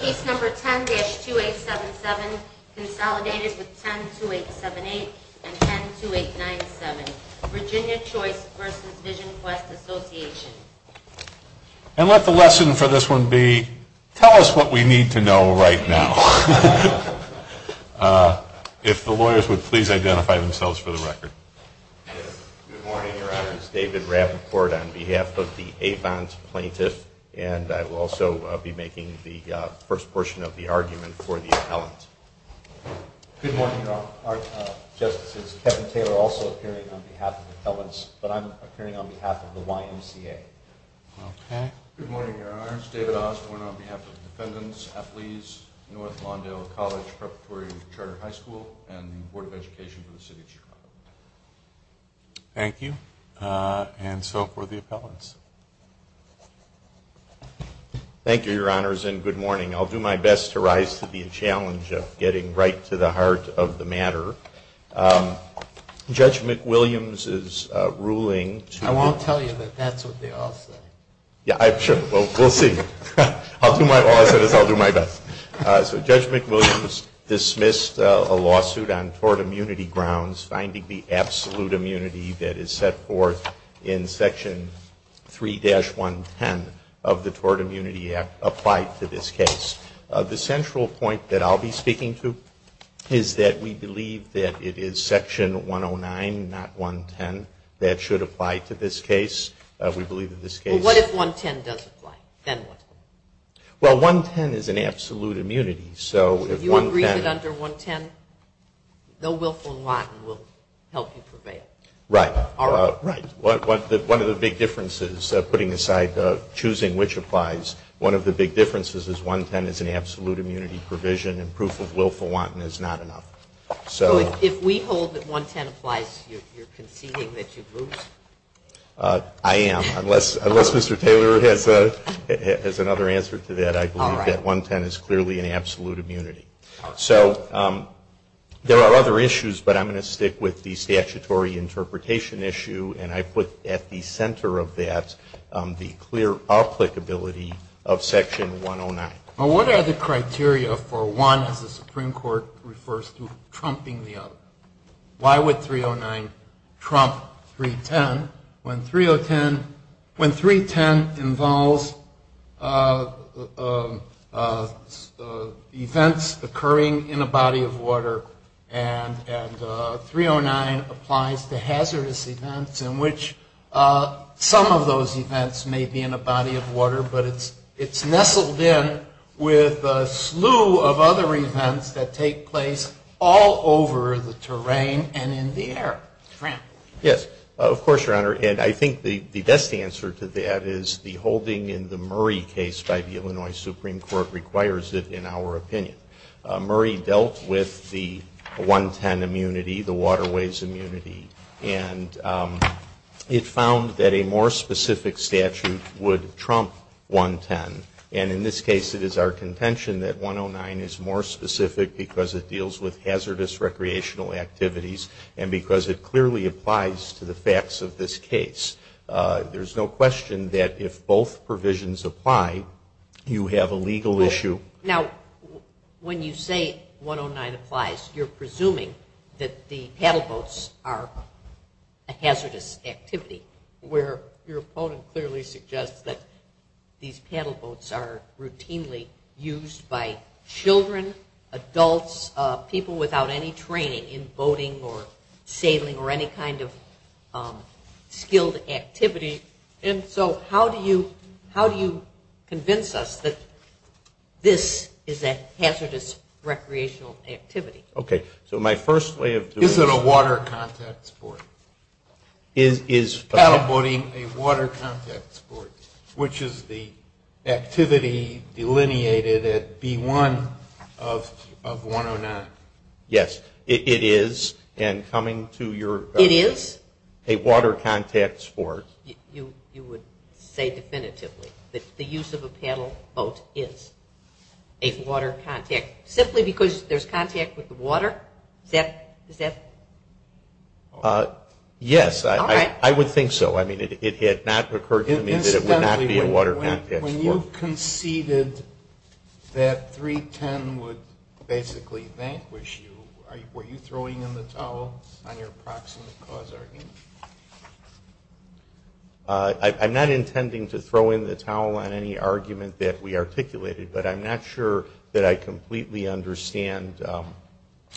Case number 10-2877, consolidated with 10-2878 and 10-2897, Virginia Choice v. Visionquest Association And let the lesson for this one be, tell us what we need to know right now. If the lawyers would please identify themselves for the record. Good morning, Your Honor. This is David Rappaport on behalf of the Athons Plaintiffs, and I will also be making the first portion of the argument for the appellant. Good morning, Your Honor. Our Justice is Kevin Taylor, also appearing on behalf of the appellants, but I'm appearing on behalf of the YMCA. Good morning, Your Honor. This is David Austin on behalf of the Defendants, Athletes, North Lawndale College Preparatory Charter High School, and the Board of Education for the City of Chicago. Thank you. And so for the appellants. Thank you, Your Honors, and good morning. I'll do my best to rise to the challenge of getting right to the heart of the matter. Judge McWilliams' ruling... I won't tell you, but that's what they all said. Yeah, sure. We'll see. I'll do my best. So Judge McWilliams dismissed a lawsuit on tort immunity grounds, finding the absolute immunity that is set forth in Section 3-110 of the Tort Immunity Act applied to this case. The central point that I'll be speaking to is that we believe that it is Section 109, not 110, that should apply to this case. We believe that this case... But what if 110 doesn't apply? Well, 110 is an absolute immunity, so if 110... So you agree that under 110, no willful lying will help you prevail? Right. One of the big differences, putting aside choosing which applies, one of the big differences is 110 is an absolute immunity provision, and proof of willful wanting is not an option. So if we hold that 110 applies, you're conceding that you've moved? I am, unless Mr. Taylor has another answer to that. I believe that 110 is clearly an absolute immunity. So there are other issues, but I'm going to stick with the statutory interpretation issue, and I put at the center of that the clear applicability of Section 109. Now, what are the criteria for one if the Supreme Court refers to trumping the other? Why would 309 trump 310 when 310 involves events occurring in a body of water and 309 applies to hazardous events in which some of those events may be in a body of water, but it's nestled in with a slew of other events that take place all over the terrain and in the air? Yes, of course, Your Honor, and I think the best answer to that is the holding in the Murray case by the Illinois Supreme Court requires it, in our opinion. Murray dealt with the 110 immunity, the waterways immunity, and it found that a more specific statute would trump 110. And in this case it is our contention that 109 is more specific because it deals with hazardous recreational activities and because it clearly applies to the facts of this case. There's no question that if both provisions apply, you have a legal issue. Now, when you say 109 applies, you're presuming that the paddle boats are a hazardous activity, where your opponent clearly suggests that these paddle boats are routinely used by children, adults, people without any training in boating or sailing or any kind of skilled activity. And so how do you convince us that this is a hazardous recreational activity? Okay, so my first way of... Is it a water contact sport? Is paddle boating a water contact sport, which is the activity delineated as B1 of 109? Yes, it is, and coming to your... It is? It is a water contact sport. You would say definitively that the use of a paddle boat is a water contact, simply because there's contact with the water? Yes, I would think so. I mean, it had not occurred to me that it would not be a water contact sport. When you conceded that 310 would basically vanquish you, were you throwing in the towel on your approximate cause argument? I'm not intending to throw in the towel on any argument that we articulated, but I'm not sure that I completely understand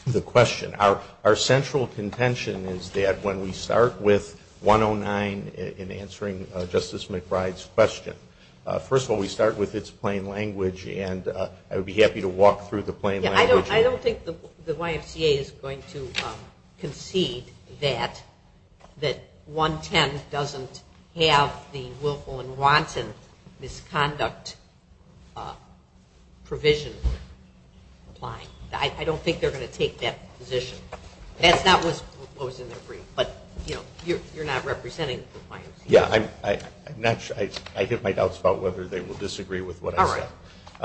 the question. Our central contention is that when we start with 109 in answering Justice McBride's question, first of all, we start with its plain language, and I would be happy to walk through the plain language here. I don't think the YMCA is going to concede that 110 doesn't have the Willful and Watson misconduct provision applied. I don't think they're going to take that position. That's not what's in their brief, but you're not representing the client. Yes, I have my doubts about whether they will disagree with what I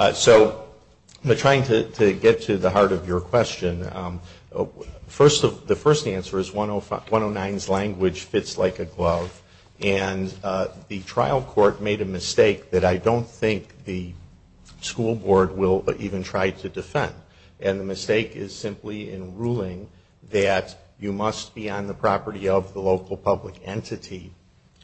said. So, trying to get to the heart of your question, the first answer is 109's language fits like a glove, and the trial court made a mistake that I don't think the school board will even try to defend, and the mistake is simply in ruling that you must be on the property of the local public entity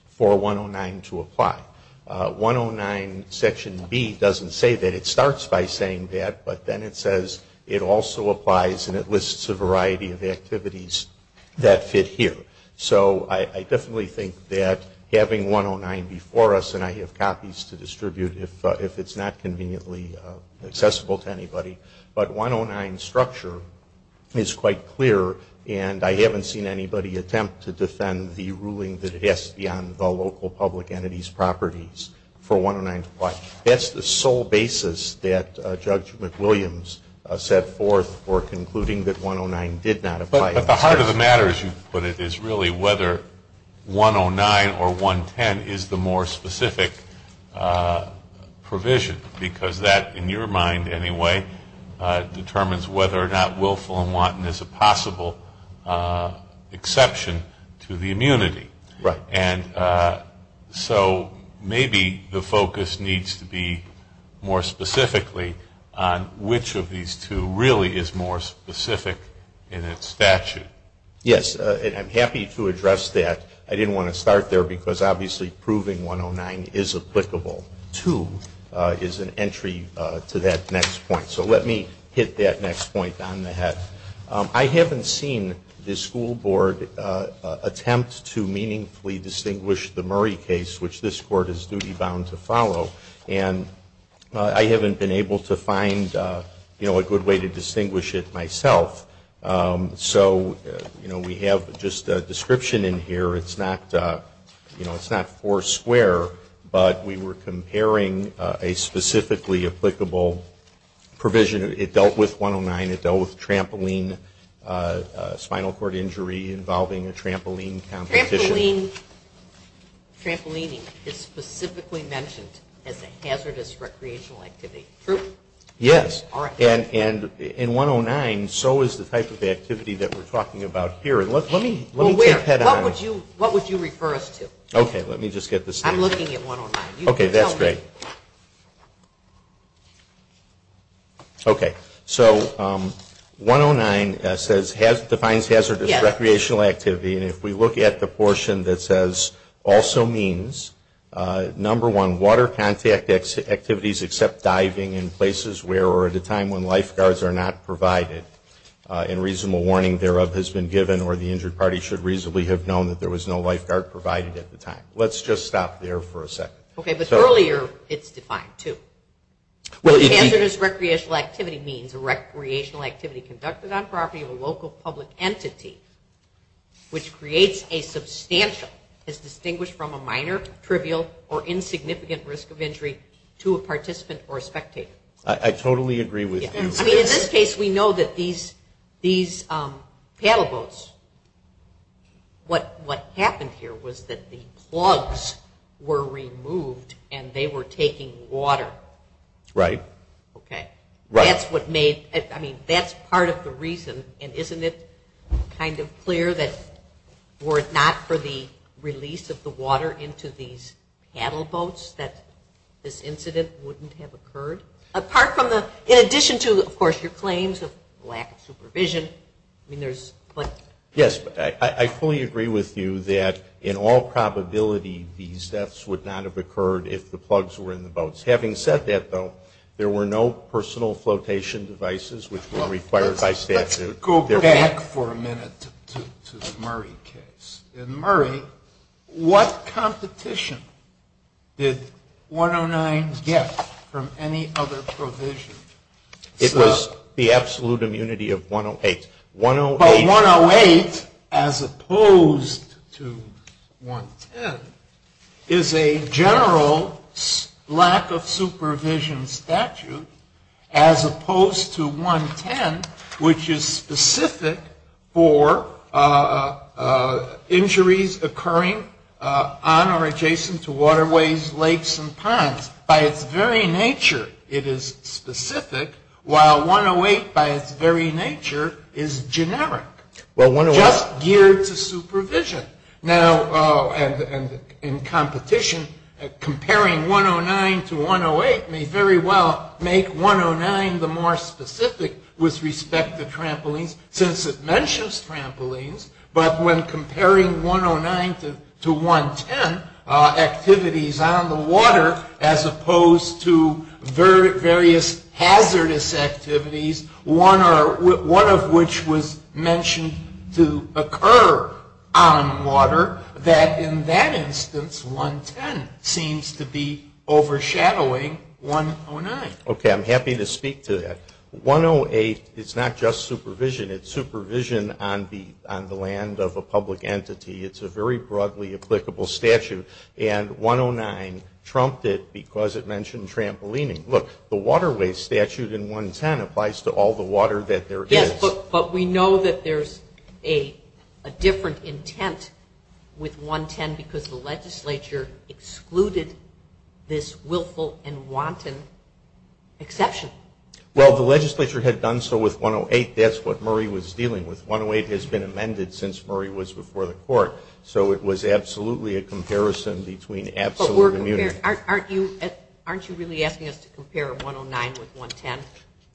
for 109 to apply. 109 section B doesn't say that. It starts by saying that, but then it says it also applies, and it lists a variety of activities that fit here. So, I definitely think that having 109 before us, and I have copies to distribute if it's not conveniently accessible to anybody, but 109's structure is quite clear, and I haven't seen anybody attempt to defend the ruling that it has to be on the local public entity's properties for 109 to apply. That's the sole basis that Judge McWilliams set forth for concluding that 109 did not apply. But the heart of the matter, as you put it, is really whether 109 or 110 is the more specific provision, because that, in your mind anyway, determines whether or not willful and wanton is a possible exception to the immunity. And so, maybe the focus needs to be more specifically on which of these two really is more specific in its statute. Yes, and I'm happy to address that. I didn't want to start there, because obviously proving 109 is applicable to is an entry to that next point. So, let me hit that next point on the head. I haven't seen the school board attempt to meaningfully distinguish the Murray case, which this Court is duty-bound to follow, and I haven't been able to find a good way to distinguish it myself. So, we have just a description in here. It's not four square, but we were comparing a specifically applicable provision. It dealt with 109. It dealt with a spinal cord injury involving a trampoline competition. Trampolining is specifically mentioned as a hazardous recreational activity. Yes. And in 109, so is the type of activity that we're talking about here. What would you refer us to? Okay, let me just get this. I'm looking at 109. Okay, that's great. Okay, so 109 defines hazardous recreational activity, and if we look at the portion that says, also means, number one, water contact activities except diving in places where or at a time when lifeguards are not provided, and reasonable warning thereof has been given, or the injured party should reasonably have known that there was no lifeguard provided at the time. Let's just stop there for a second. Okay, but earlier it's defined too. What does hazardous recreational activity mean? Recreational activity conducted on property of a local public entity which creates a substantial, is distinguished from a minor, trivial, or insignificant risk of injury to a participant or a spectator. I totally agree with you. I mean, in this case, we know that these paddle boats, what happened here was that the plugs were removed and they were taking water. Right. Okay. Right. That's what made, I mean, that's part of the reason, and isn't it kind of clear that were it not for the release of the water into these paddle boats that this incident wouldn't have occurred? Apart from the, in addition to, of course, your claims of lack of supervision, I mean, there's plenty. Yes, I fully agree with you that in all probability these deaths would not have occurred if the plugs were in the boats. Having said that, though, there were no personal flotation devices which are required by statute. Go back for a minute to the Murray case. In Murray, what competition did 109 get from any other provision? It was the absolute immunity of 108. But 108, as opposed to 110, is a general lack of supervision statute as opposed to 110, which is specific for injuries occurring on or adjacent to waterways, lakes, and ponds. 109, by its very nature, it is specific, while 108, by its very nature, is generic. Just geared to supervision. Now, in competition, comparing 109 to 108 may very well make 109 the more specific with respect to trampolines, since it mentions trampolines, but when comparing 109 to 110, activities on the water, as opposed to various hazardous activities, one of which was mentioned to occur on water, that in that instance 110 seems to be overshadowing 109. Okay, I'm happy to speak to that. 108 is not just supervision. It's supervision on the land of a public entity. It's a very broadly applicable statute, and 109 trumped it because it mentioned trampolining. Look, the waterway statute in 110 applies to all the water that there is. Yes, but we know that there's a different intent with 110 because the legislature excluded this willful and wanton exception. Well, the legislature had done so with 108. That's what Murray was dealing with. 108 has been amended since Murray was before the court, so it was absolutely a comparison between absolute immunity. Aren't you really asking us to compare 109 with 110?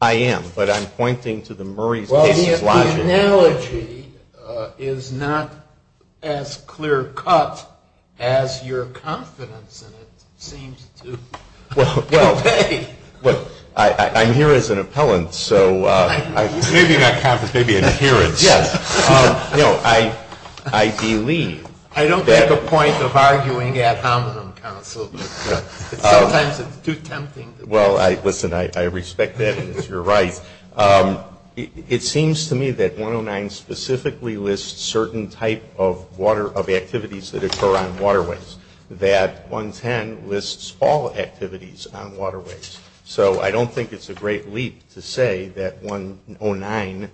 I am, but I'm pointing to the Murray's case logic. The analogy is not as clear-cut as your confidence in it seems to be. Well, I'm here as an appellant, so maybe not confidence, maybe an adherence. Yes. No, I believe. I don't make a point of arguing ad hominem counsel. Sometimes it's too tempting. Well, listen, I respect that because you're right. It seems to me that 109 specifically lists certain type of activities that occur on waterways, that 110 lists all activities on waterways. So I don't think it's a great leap to say that 109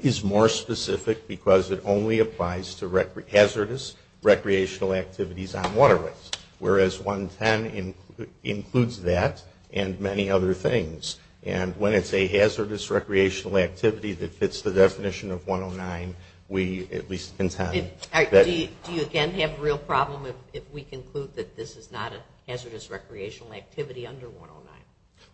is more specific because it only applies to hazardous recreational activities on waterways, whereas 110 includes that and many other things. And when it's a hazardous recreational activity that fits the definition of 109, we at least intend that... Do you again have a real problem if we conclude that this is not a hazardous recreational activity under 109?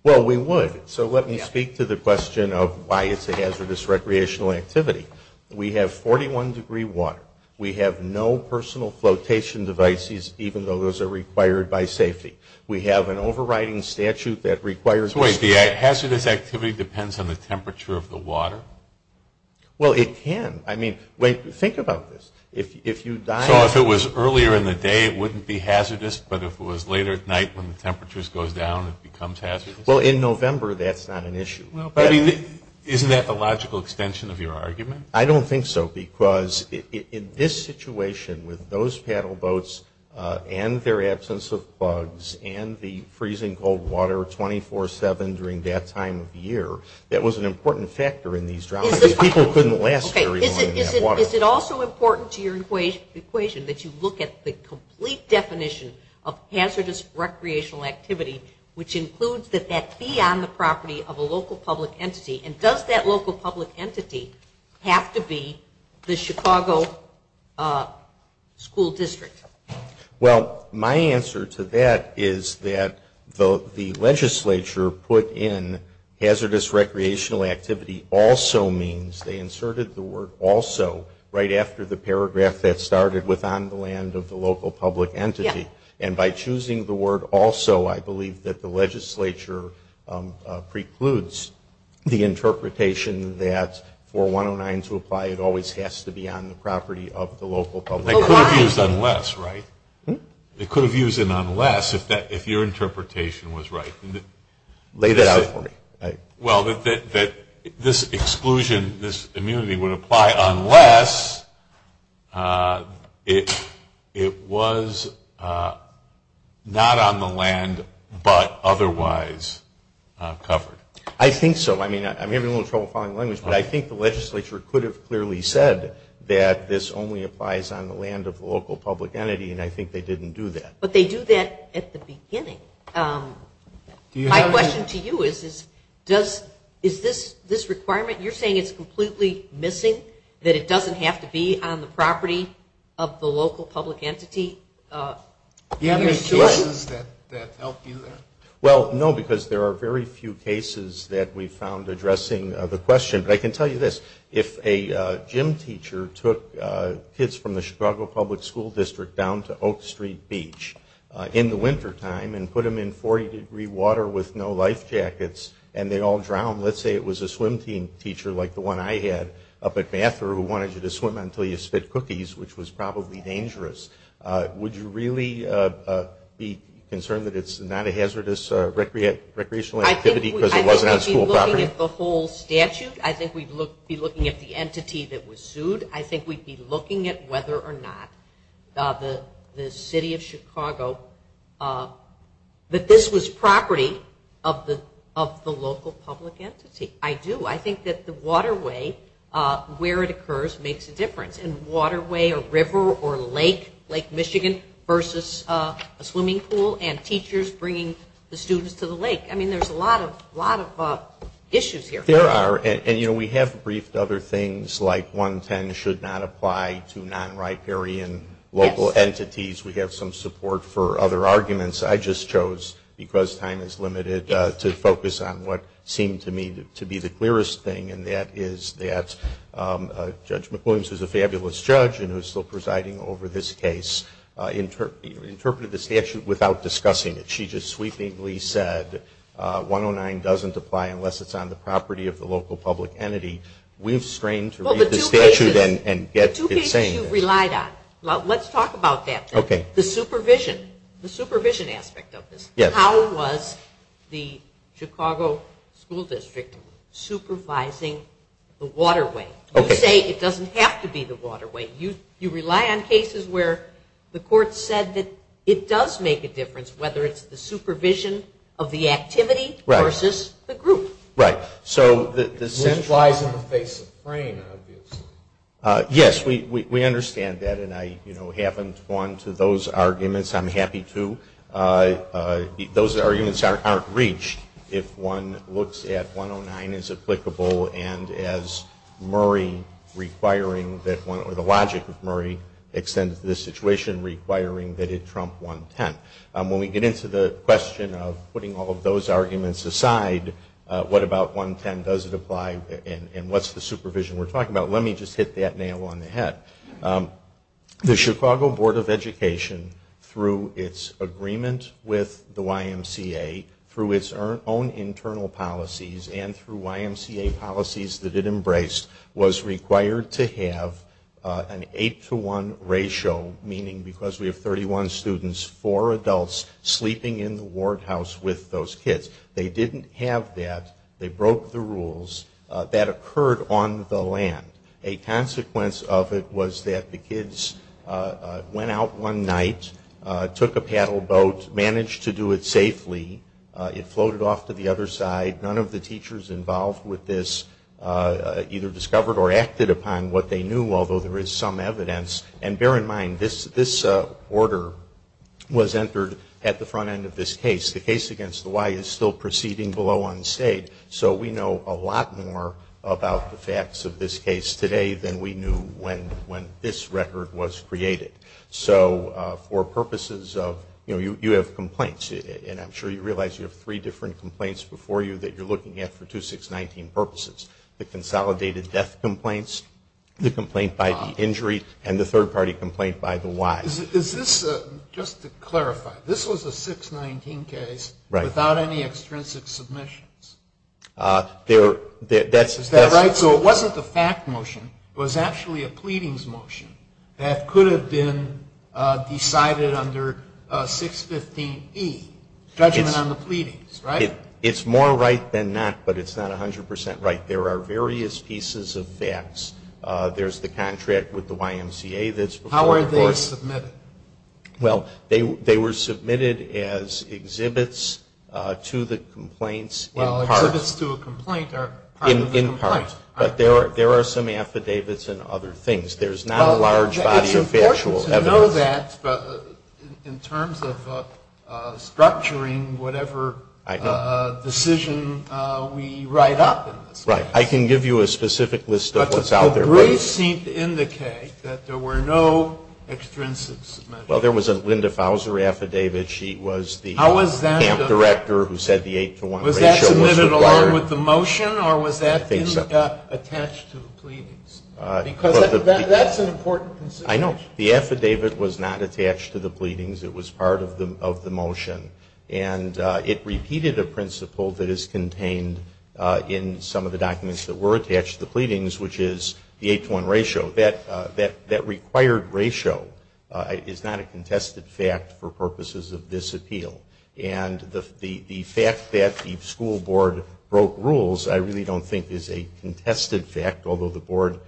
Well, we would. So let me speak to the question of why it's a hazardous recreational activity. We have 41 degree water. We have no personal flotation devices, even though those are required by safety. We have an overriding statute that requires... So wait, the hazardous activity depends on the temperature of the water? Well, it can. I mean, wait, think about this. So if it was earlier in the day, it wouldn't be hazardous, but if it was later at night when the temperatures go down, it becomes hazardous? Well, in November, that's not an issue. Isn't that a logical extension of your argument? I don't think so because in this situation with those paddle boats and their absence of bugs and the freezing cold water 24-7 during that time of year, that was an important factor in these routes. People couldn't last very long in that water. Is it also important to your equation that you look at the complete definition of hazardous recreational activity, which includes that that be on the property of a local public entity, and does that local public entity have to be the Chicago school district? Well, my answer to that is that the legislature put in hazardous recreational activity also means they inserted the word also right after the paragraph that started with on the land of the local public entity. And by choosing the word also, I believe that the legislature precludes the interpretation that for 109 to apply, it always has to be on the property of the local public entity. It could have used unless, right? It could have used an unless if your interpretation was right. Lay that out for me. Well, this exclusion, this immunity would apply unless it was not on the land but otherwise covered. I think so. I mean, I'm having a little trouble following the language, but I think the legislature could have clearly said that this only applies on the land of the local public entity, and I think they didn't do that. But they do that at the beginning. My question to you is, is this requirement, you're saying it's completely missing, that it doesn't have to be on the property of the local public entity? Do you have any solutions that help you there? Well, no, because there are very few cases that we found addressing the question. But I can tell you this, if a gym teacher took kids from the Chicago Public School District down to Oak Street Beach in the wintertime and put them in 40-degree water with no life jackets and they all drowned, let's say it was a swim team teacher like the one I had up at Bathur who wanted you to swim until you spit cookies, which was probably dangerous, would you really be concerned that it's not a hazardous recreational activity because it wasn't on school property? I think we'd be looking at the whole statute. I think we'd be looking at the entity that was sued. I think we'd be looking at whether or not the city of Chicago, that this was property of the local public entity. I do. I think that the waterway, where it occurs, makes a difference. And waterway or river or lake, Lake Michigan, versus a swimming pool and teachers bringing the students to the lake. I mean, there's a lot of issues here. There are, and we have briefed other things like 110 should not apply to non-riparian local entities. We have some support for other arguments. I just chose, because time is limited, to focus on what seemed to me to be the clearest thing, and that is that Judge McWilliams, who's a fabulous judge and who's still presiding over this case, interpreted the statute without discussing it. She just sweepingly said 109 doesn't apply unless it's on the property of the local public entity. We've strained to read the statute and get the change. Two things you relied on. Let's talk about that then. The supervision. The supervision aspect of this. How was the Chicago School District supervising the waterway? You say it doesn't have to be the waterway. You rely on cases where the court said that it does make a difference, whether it's the supervision of the activity versus the group. Right. This lies in the face of brain abuse. Yes, we understand that, and I haven't gone to those arguments. I'm happy to. Those arguments aren't reached if one looks at 109 as applicable and as the logic of Murray extended to this situation requiring that it trump 110. When we get into the question of putting all of those arguments aside, what about 110? Does it apply? And what's the supervision we're talking about? Let me just hit that nail on the head. The Chicago Board of Education, through its agreement with the YMCA, through its own internal policies and through YMCA policies that it embraced, was required to have an 8 to 1 ratio, meaning because we have 31 students, 4 adults sleeping in the ward house with those kids. They didn't have that. They broke the rules. That occurred on the land. A consequence of it was that the kids went out one night, took a paddle boat, managed to do it safely. It floated off to the other side. None of the teachers involved with this either discovered or acted upon what they knew, although there is some evidence. And bear in mind, this order was entered at the front end of this case. The case against the Y is still proceeding below on stage, so we know a lot more about the facts of this case today than we knew when this record was created. So for purposes of, you know, you have complaints, and I'm sure you realize you have three different complaints before you that you're looking at for 2619 purposes. The consolidated death complaints, the complaint by the injury, and the third party complaint by the Y. Is this, just to clarify, this was a 619 case without any extrinsic submissions? Is that right? So it wasn't the fact motion. It was actually a pleadings motion that could have been decided under 615E, judgment on the pleadings, right? It's more right than not, but it's not 100% right. There are various pieces of facts. There's the contract with the YMCA that's before the court. How are they submitted? Well, they were submitted as exhibits to the complaints. Well, exhibits to a complaint are part of the complaint. In part, but there are some affidavits and other things. There's not a large body of factual evidence. It's important to know that in terms of structuring whatever decision we write up. Right. I can give you a specific list of what's out there. But the briefs seem to indicate that there were no extrinsic submissions. Well, there was a Linda Fouser affidavit. She was the camp director who said the 8 to 1 ratio was required. Was it along with the motion, or was that in-depth attached to the pleadings? Because that's an important consideration. I know. The affidavit was not attached to the pleadings. It was part of the motion. And it repeated a principle that is contained in some of the documents that were attached to the pleadings, which is the 8 to 1 ratio. That required ratio is not a contested fact for purposes of this appeal. And the fact that the school board broke rules I really don't think is a contested fact, although the board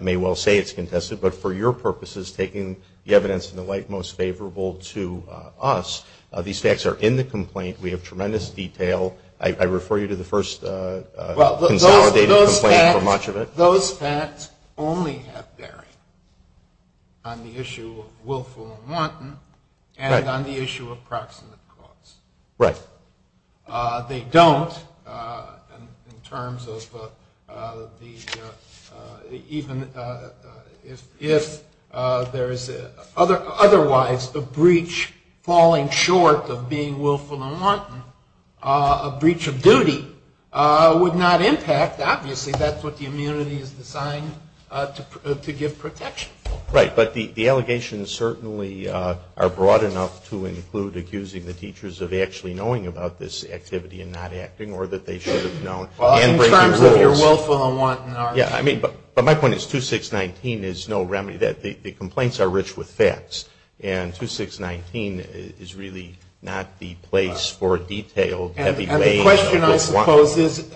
may well say it's contested. But for your purposes, taking the evidence in the light most favorable to us, these facts are in the complaint. We have tremendous detail. I refer you to the first consolidated complaint for much of it. But those facts only have bearing on the issue of willful and wanton and on the issue of proximate cause. Right. They don't in terms of even if there is otherwise a breach falling short of being willful and wanton, a breach of duty would not impact. And, in fact, obviously that's what the immunity is designed to give protection. Right. But the allegations certainly are broad enough to include accusing the teachers of actually knowing about this activity and not acting or that they should have known and breaking rules. In terms of your willful and wanton. Yeah. But my point is 2619 is no remedy. The complaints are rich with facts. And 2619 is really not the place for a detailed heavy weight. My question, I suppose, is,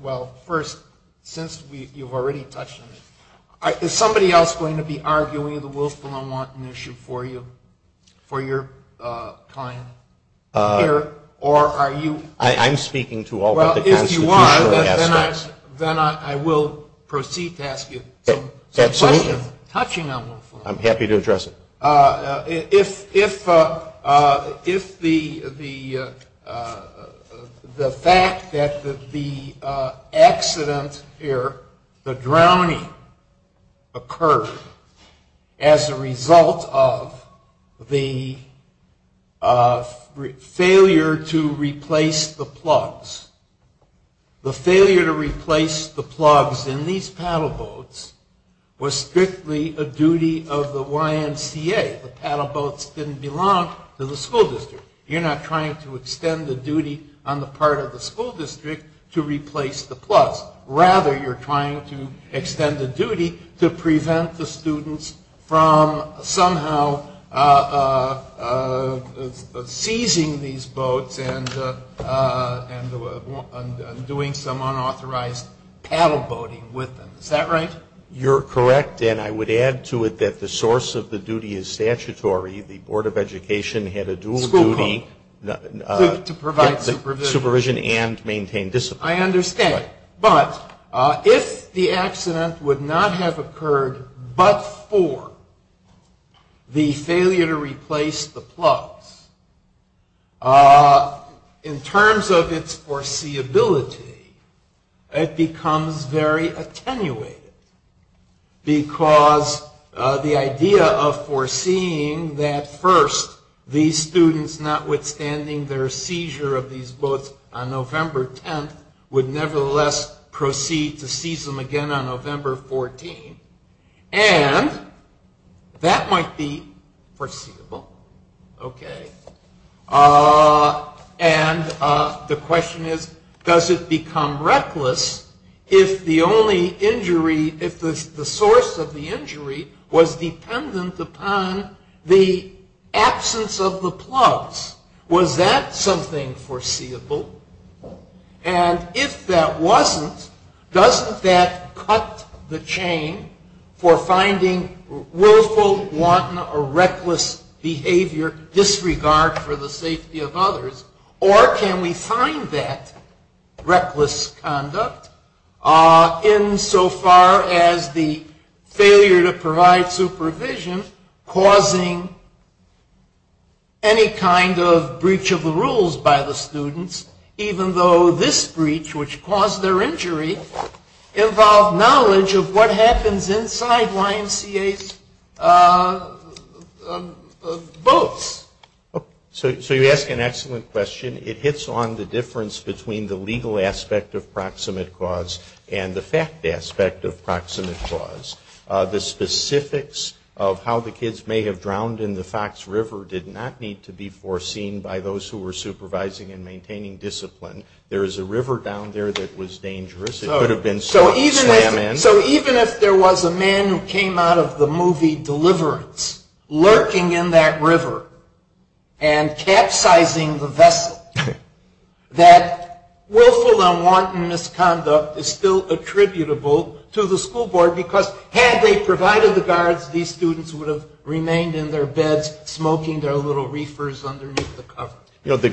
well, first, since you've already touched on this, is somebody else going to be arguing the willful and wanton issue for you for your time here? Or are you? I'm speaking to all of the cases. Well, if you want, then I will proceed to ask you. Absolutely. I'm happy to address it. If the fact that the accident here, the drowning, occurred as a result of the failure to replace the plugs, the failure to replace the plugs in these paddle boats was strictly a duty of the YMCA. The paddle boats didn't belong to the school district. You're not trying to extend the duty on the part of the school district to replace the plugs. I'm doing some unauthorized paddle boating with them. Is that right? You're correct. And I would add to it that the source of the duty is statutory. The Board of Education had a dual duty. To provide supervision. Supervision and maintain discipline. I understand. But if the accident would not have occurred but for the failure to replace the plugs, in terms of its foreseeability, it becomes very attenuated. Because the idea of foreseeing that, first, these students, notwithstanding their seizure of these boats on November 10th, would nevertheless proceed to seize them again on November 14th. And that might be foreseeable. Okay. And the question is, does it become reckless if the only injury, if the source of the injury was dependent upon the absence of the plugs? Was that something foreseeable? And if that wasn't, doesn't that cut the chain for finding willful, wanton, or reckless behavior disregard for the safety of others? Or can we find that reckless conduct insofar as the failure to provide supervision and supervision causing any kind of breach of the rules by the students, even though this breach, which caused their injury, involved knowledge of what happens inside YMCA boats? So you ask an excellent question. It hits on the difference between the legal aspect of proximate cause and the fact aspect of proximate cause. The specifics of how the kids may have drowned in the Fox River did not need to be foreseen by those who were supervising and maintaining discipline. There is a river down there that was dangerous. It could have been some sand man. So even if there was a man who came out of the movie Deliverance lurking in that river and capsizing the vessel, that willful and wanton misconduct is still attributable to the school board because had they provided the guards, these students would have remained in their beds smoking their little reefers underneath the cover. The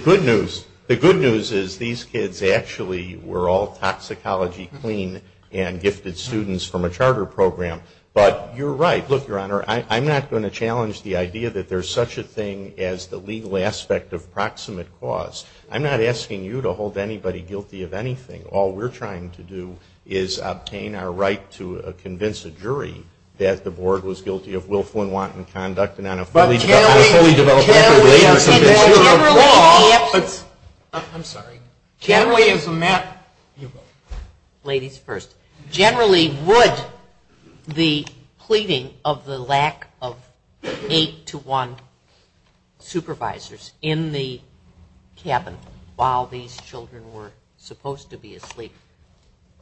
good news is these kids actually were all toxicology clean and gifted students from a charter program. But you're right. Look, Your Honor, I'm not going to challenge the idea that there's such a thing as the legal aspect of proximate cause. I'm not asking you to hold anybody guilty of anything. All we're trying to do is obtain our right to convince a jury that the board was guilty of willful and wanton conduct and that a fully developed... But generally... I'm sorry. Generally... Ladies first. Generally would the pleading of the lack of eight to one supervisors in the cabin while these children were supposed to be asleep,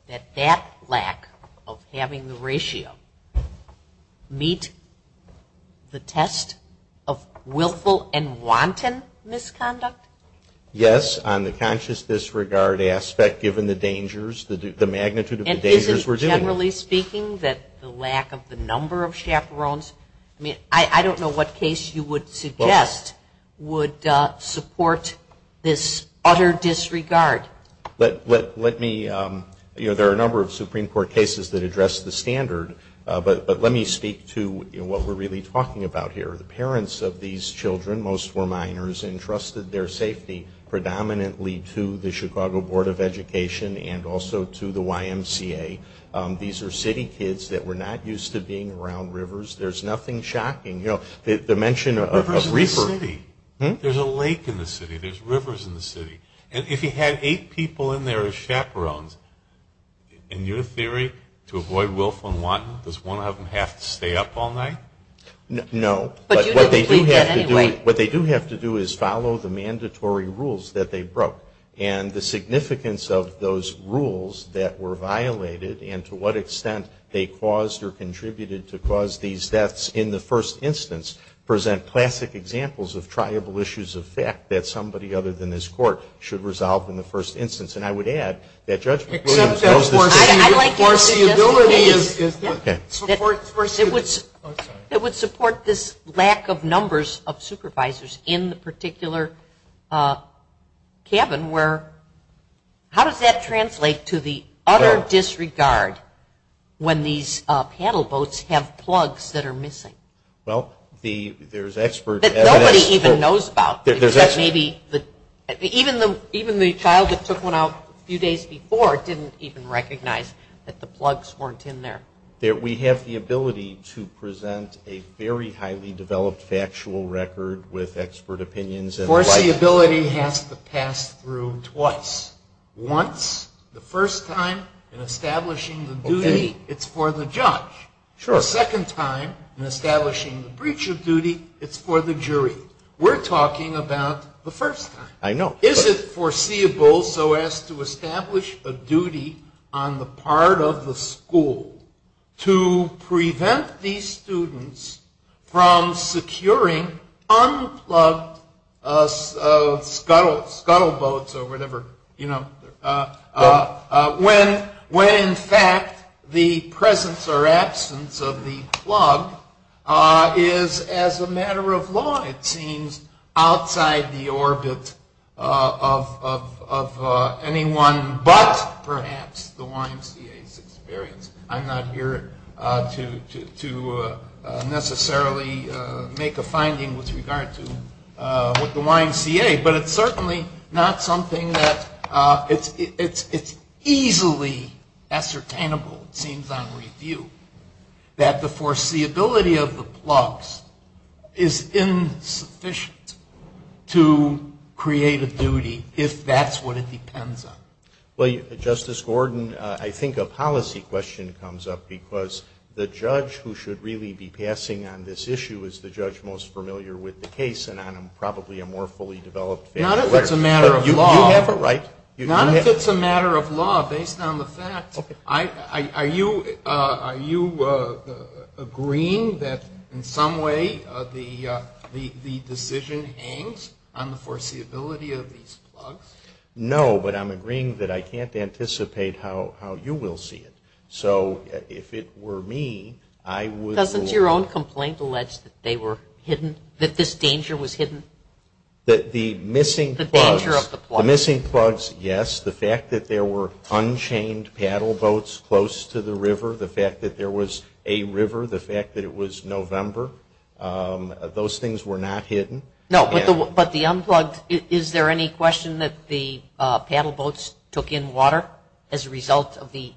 that that lack of having the ratio meet the test of willful and wanton misconduct? Yes, on the conscious disregard aspect given the dangers, the magnitude of the dangers we're dealing with. And isn't it generally speaking that the lack of the number of chaperones... I don't know what case you would suggest would support this utter disregard. Let me... There are a number of Supreme Court cases that address the standard. But let me speak to what we're really talking about here. The parents of these children, most were minors, entrusted their safety predominantly to the Chicago Board of Education and also to the YMCA. These are city kids that were not used to being around rivers. There's nothing shocking. The mention of... Rivers are in the city. There's a lake in the city. There's rivers in the city. And if you had eight people in there as chaperones, in your theory, to avoid willful and wanton, does one of them have to stay up all night? No. But what they do have to do is follow the mandatory rules that they broke. And the significance of those rules that were violated and to what extent they caused or contributed to cause these deaths in the first instance present classic examples of triable issues of fact that somebody other than this court should resolve in the first instance. And I would add that judgment... I like that. Okay. It would support this lack of numbers of supervisors in the particular cabin where... How does that translate to the utter disregard when these paddle boats have plugs that are missing? Well, there's expert evidence... That nobody even knows about. Even the child that took one out a few days before didn't even recognize that the plugs weren't in there. We have the ability to present a very highly developed factual record with expert opinions... Of course, the ability has to pass through twice. Once, the first time, in establishing the duty, it's for the judge. Sure. The second time, in establishing the breach of duty, it's for the jury. We're talking about the first time. I know. Is it foreseeable so as to establish a duty on the part of the school to prevent these students from securing unplugged scuttle boats or whatever, when, in fact, the presence or absence of the plug is, as a matter of law, it seems, outside the orbit of anyone but, perhaps, the YMCA. I'm not here to necessarily make a finding with regard to the YMCA, but it's certainly not something that... It's easily ascertainable, it seems on review, that the foreseeability of the plugs is insufficient to create a duty, if that's what it depends on. Well, Justice Gordon, I think a policy question comes up, because the judge who should really be passing on this issue is the judge most familiar with the case, and I'm probably a more fully developed... Not if it's a matter of law. You have a right. Not if it's a matter of law, based on the facts. Okay. Are you agreeing that, in some way, the decision hangs on the foreseeability of these plugs? No, but I'm agreeing that I can't anticipate how you will see it. So, if it were me, I would... Doesn't your own complaint allege that they were hidden, that this danger was hidden? That the missing plugs... The danger of the plugs. The missing plugs, yes. The fact that there were unchained paddle boats close to the river. The fact that there was a river. The fact that it was November. Those things were not hidden. No, but the unplugged... Is there any question that the paddle boats took in water as a result of the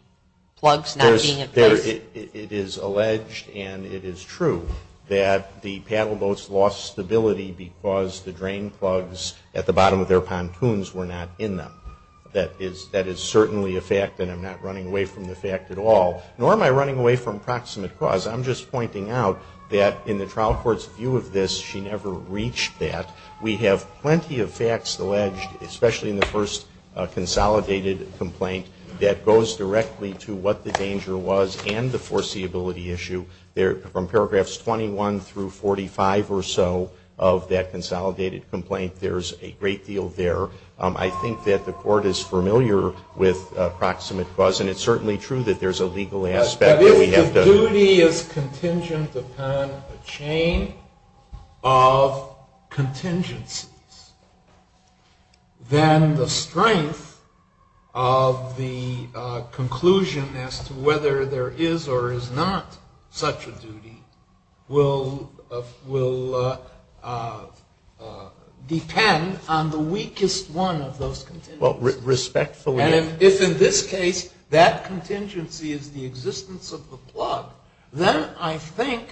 plugs not being included? It is alleged, and it is true, that the paddle boats lost stability because the drain plugs at the bottom of their pontoons were not in them. That is certainly a fact, and I'm not running away from the fact at all. Nor am I running away from proximate cause. I'm just pointing out that, in the trial court's view of this, she never reached that. We have plenty of facts alleged, especially in the first consolidated complaint, that goes directly to what the danger was and the foreseeability issue. From paragraphs 21 through 45 or so of that consolidated complaint, there's a great deal there. I think that the court is familiar with proximate cause, and it's certainly true that there's a legal aspect that we have to... If the duty is contingent upon a chain of contingency, then the strength of the conclusion as to whether there is or is not such a duty will depend on the weakest one of those contingencies. If, in this case, that contingency is the existence of the plug, then I think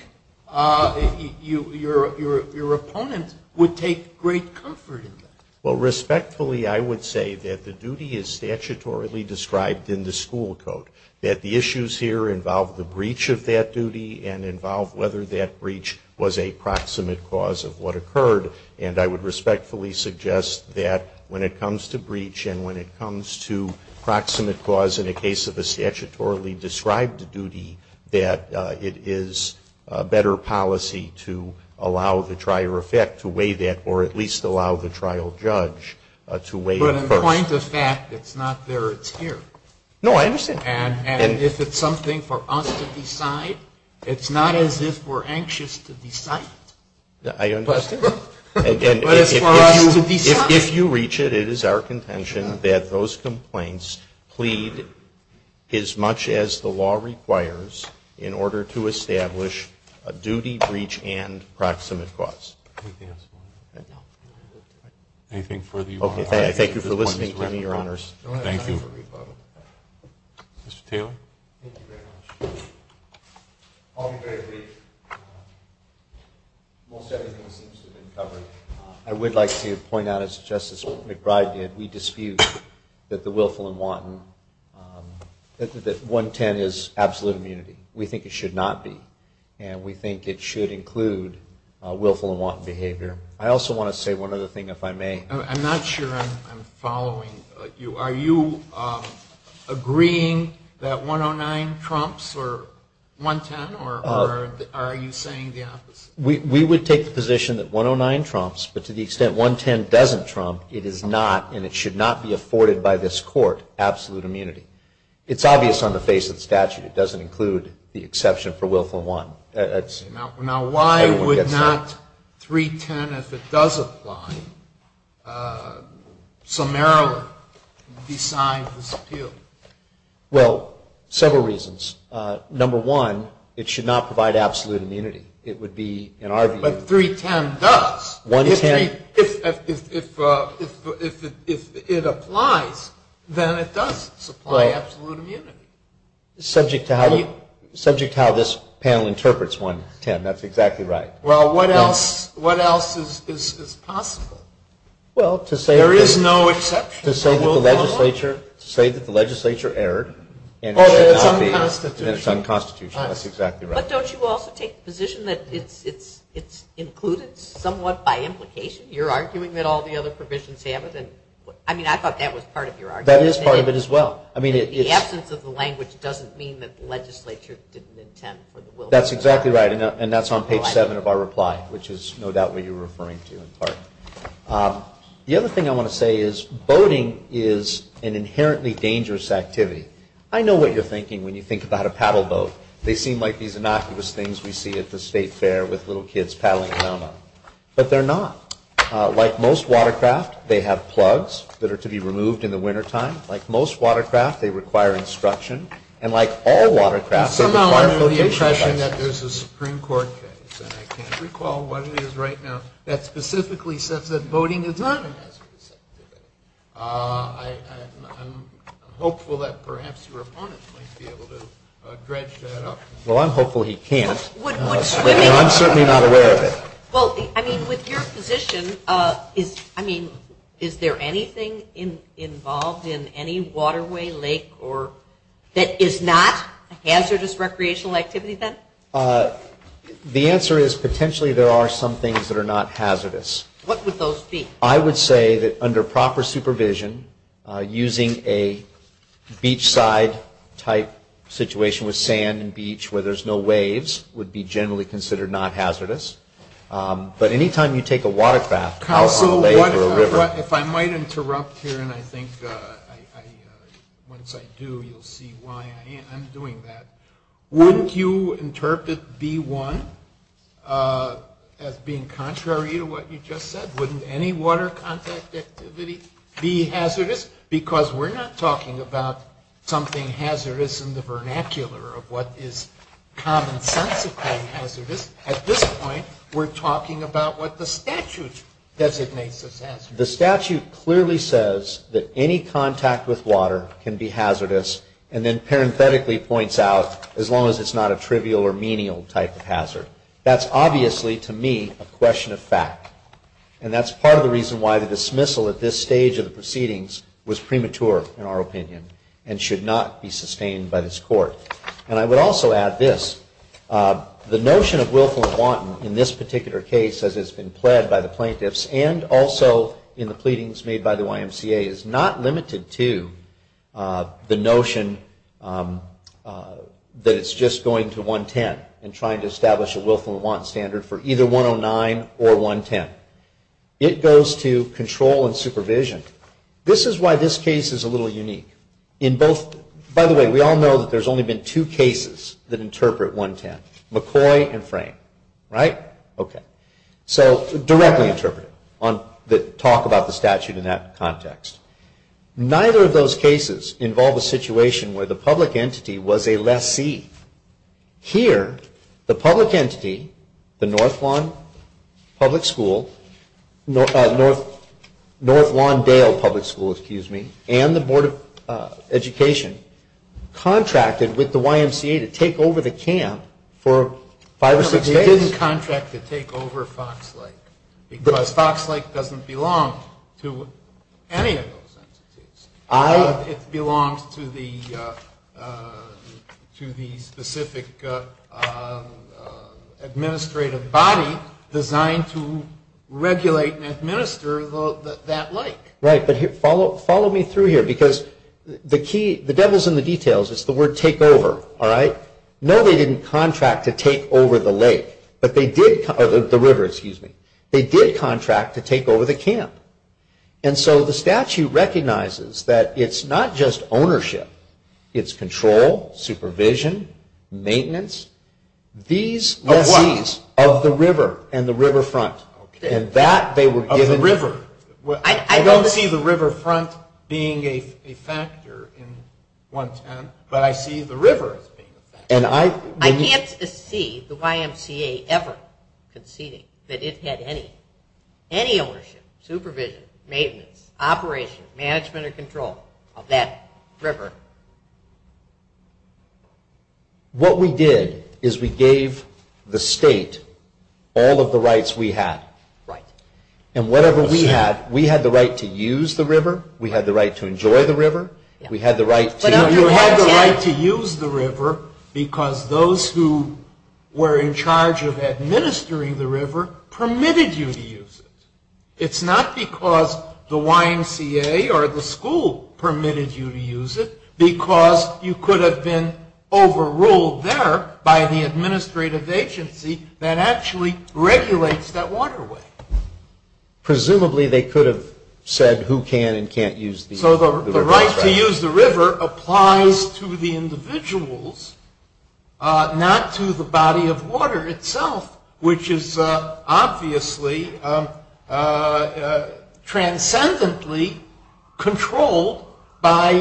your opponent would take great comfort in that. Respectfully, I would say that the duty is statutorily described in the school code, that the issues here involve the breach of that duty and involve whether that breach was a proximate cause of what occurred. I would respectfully suggest that when it comes to breach and when it comes to proximate cause in the case of a statutorily described duty, that it is better policy to allow the trial judge to weigh that. So in the point of fact, it's not very clear. No, I understand. And is it something for us to decide? It's not as if we're anxious to decide. I understand. But as far as you decide. If you reach it, it is our contention that those complaints plead as much as the law requires in order to establish a duty breach and proximate cause. Anything further you want to add? Okay, thank you for listening to me, Your Honors. Thank you. Mr. Taylor? Thank you very much. On the breach, most everything seems to have been covered. I would like to point out, as Justice McBride did, we dispute that the willful and wanton, that 110 is absolute immunity. We think it should not be. And we think it should include willful and wanton behavior. I also want to say one other thing, if I may. I'm not sure I'm following you. Are you agreeing that 109 trumps or 110, or are you saying the opposite? We would take the position that 109 trumps, but to the extent 110 doesn't trump, it is not, and it should not be afforded by this court, absolute immunity. It's obvious on the face of the statute. It doesn't include the exception for willful and wanton. Now, why would not 310, if it does apply, summarily decide to dispute? Well, several reasons. Number one, it should not provide absolute immunity. But 310 does. If it applies, then it does supply absolute immunity. Subject to how this panel interprets 110, that's exactly right. Well, what else is possible? Well, to say that the legislature erred, and it's unconstitutional. That's exactly right. But don't you also take the position that it's included somewhat by implication? You're arguing that all the other provisions have it. I mean, I thought that was part of your argument. That is part of it as well. The absence of the language doesn't mean that the legislature didn't intend for the willful. That's exactly right, and that's on page 7 of our reply, which is no doubt what you're referring to in part. The other thing I want to say is boating is an inherently dangerous activity. I know what you're thinking when you think about a paddle boat. They seem like these innocuous things we see at the state fair with little kids paddling around on them. But they're not. Like most watercraft, they have plugs that are to be removed in the wintertime. Like most watercraft, they require instruction. And like all watercraft, they require a litigation. Well, I'm only suggesting that this is a Supreme Court case, and I can't recall what it is right now that specifically says that boating is not a hazardous activity. I'm hopeful that perhaps your opponent might be able to dredge that up. Well, I'm hopeful he can't. I'm certainly not aware of it. With your position, is there anything involved in any waterway, lake, that is not a hazardous recreational activity then? The answer is potentially there are some things that are not hazardous. What would those be? I would say that under proper supervision, using a beachside-type situation with sand and beach where there's no waves would be generally considered not hazardous. But any time you take a watercraft out on a lake or a river. If I might interrupt here, and I think once I do, you'll see why I'm doing that. Wouldn't you interpret V1 as being contrary to what you just said? Wouldn't any water contact activity be hazardous? Yes, because we're not talking about something hazardous in the vernacular of what is common sense to call hazardous. At this point, we're talking about what the statute designates as hazardous. The statute clearly says that any contact with water can be hazardous, and then parenthetically points out as long as it's not a trivial or menial type of hazard. That's obviously, to me, a question of fact, and that's part of the reason why the dismissal at this stage of the proceedings was premature in our opinion and should not be sustained by this court. I would also add this. The notion of willful and wanton in this particular case as it's been pled by the plaintiffs and also in the pleadings made by the YMCA is not limited to the notion that it's just going to 110 in trying to establish a willful and wanton standard for either 109 or 110. It goes to control and supervision. This is why this case is a little unique. By the way, we all know that there's only been two cases that interpret 110, McCoy and Frank, right? So, directly interpret, talk about the statute in that context. Neither of those cases involve a situation where the public entity was a left fee. Here, the public entity, the North Lawn Dale Public School and the Board of Education contracted with the YMCA to take over the camp for five or six days. They didn't contract to take over Fox Lake because Fox Lake doesn't belong to any of those entities. It belongs to the specific administrative body designed to regulate and administer that lake. Right, but follow me through here because the devil's in the details is the word take over, all right? No, they didn't contract to take over the lake, the river, excuse me. They did contract to take over the camp. And so, the statute recognizes that it's not just ownership, it's control, supervision, maintenance. These are fees of the river and the riverfront. Of the river. I don't see the riverfront being a factor in 110, but I see the river. I can't see the YMCA ever conceding that it had any ownership, supervision, maintenance, operation, management and control of that river. What we did is we gave the state all of the rights we had. Right. And whatever we had, we had the right to use the river, we had the right to enjoy the river, we had the right to... We had the right to use the river because those who were in charge of administering the river permitted you to use it. It's not because the YMCA or the school permitted you to use it, because you could have been overruled there by the administrative agency that actually regulates that waterway. Presumably, they could have said who can and can't use the river. So the right to use the river applies to the individuals, not to the body of water itself, which is obviously transcendently controlled by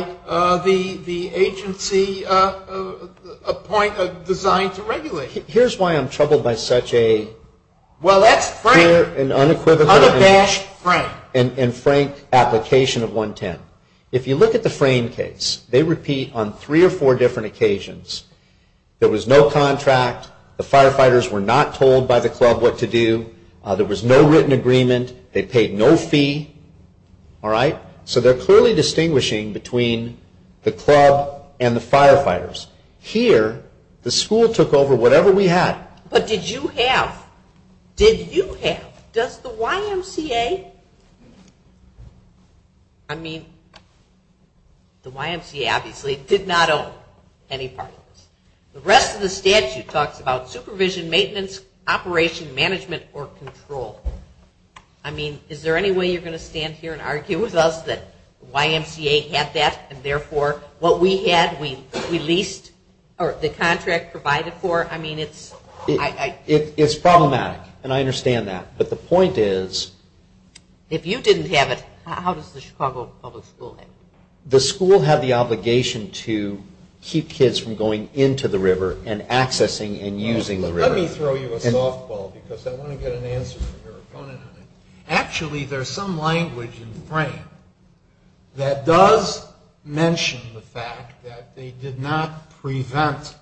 the agency point of design to regulate it. Here's why I'm troubled by such an unequivocal and frank application of 110. If you look at the frame case, they repeat on three or four different occasions, there was no contract, the firefighters were not told by the club what to do, there was no written agreement, they paid no fee. So they're clearly distinguishing between the club and the firefighters. Here, the school took over whatever we had. But did you have? Did you have? Does the YMCA? I mean, the YMCA obviously did not own any part of this. The rest of the statute talks about supervision, maintenance, operation, management, or control. I mean, is there any way you're going to stand here and argue with us that the YMCA has that and therefore what we had, we leased, or the contract provided for, I mean, it's... And I understand that. But the point is... If you didn't have it, how does the Chicago Public School have it? The school had the obligation to keep kids from going into the river and accessing and using the river. Let me throw you a softball because I want to get an answer here. Actually, there's some language in the frame that does mention the fact that they did not prevent,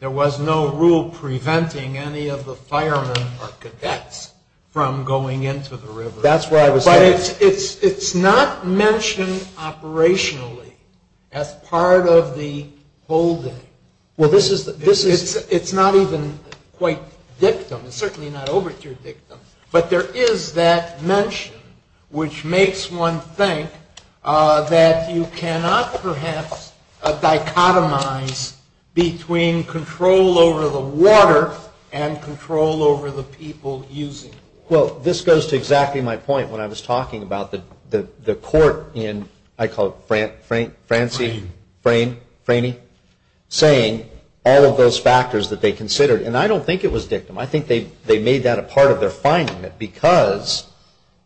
there was no rule preventing any of the firemen or cadets from going into the river. That's what I was saying. But it's not mentioned operationally as part of the holding. Well, this is... It's not even quite dictum. It's certainly not overture dictum. But there is that mention which makes one think that you cannot perhaps dichotomize between control over the water and control over the people using it. Well, this goes to exactly my point when I was talking about the court in... I call it Franci... Frane. Frane. Franey. Saying all of those factors that they considered. And I don't think it was dictum. I think they made that a part of their finding that because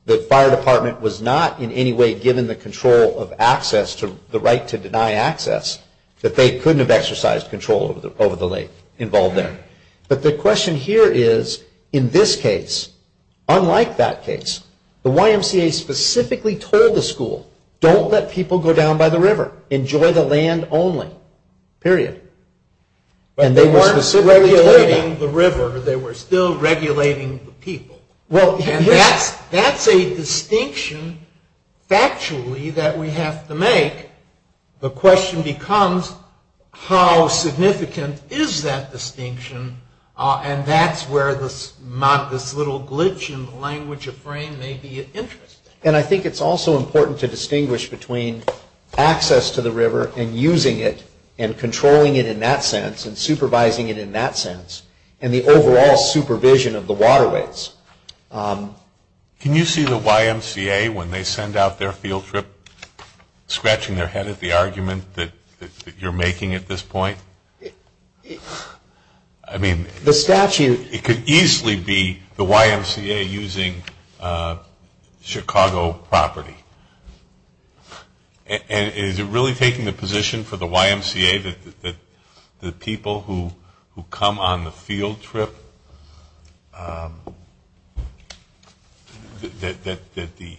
the fire department was not in any way given the control of access, the right to deny access, that they couldn't have exercised control over the lake involved there. But the question here is, in this case, unlike that case, the YMCA specifically told the school, don't let people go down by the river. Enjoy the land only. Period. And they weren't regulating the river. They were still regulating the people. And that's a distinction, factually, that we have to make. The question becomes, how significant is that distinction? And that's where this little glitch in the language of Frane may be interesting. And I think it's also important to distinguish between access to the river and using it and controlling it in that sense and supervising it in that sense and the overall supervision of the waterways. Can you see the YMCA, when they send out their field trip, scratching their head at the argument that you're making at this point? I mean, it could easily be the YMCA using Chicago property. And is it really taking the position for the YMCA that the people who come on the field trip, that the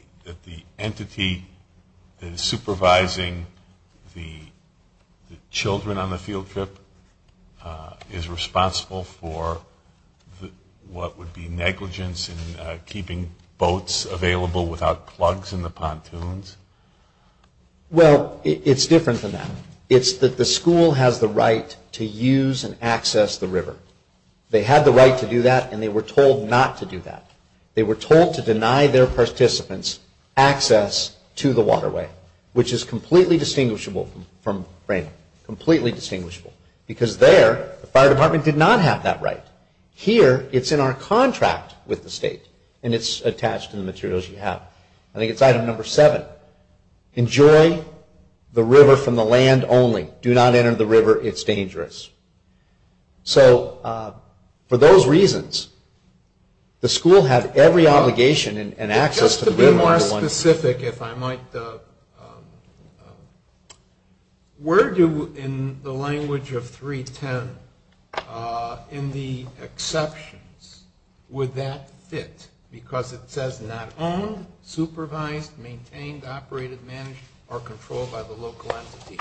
entity supervising the children on the field trip is responsible for what would be negligence in keeping boats available without plugs in the pontoons? Well, it's different from that. It's that the school has the right to use and access the river. They had the right to do that, and they were told not to do that. They were told to deny their participants access to the waterway, which is completely distinguishable from Frane. Completely distinguishable. Because there, the fire department did not have that right. Here, it's in our contract with the state, and it's attached to the materials we have. I think it's item number seven. Enjoy the river from the land only. Do not enter the river. It's dangerous. So for those reasons, the school had every obligation and access to the river. One more specific, if I might. Where do, in the language of 310, in the exceptions, would that fit? Because it says not owned, supervised, maintained, operated, managed, or controlled by the local entity.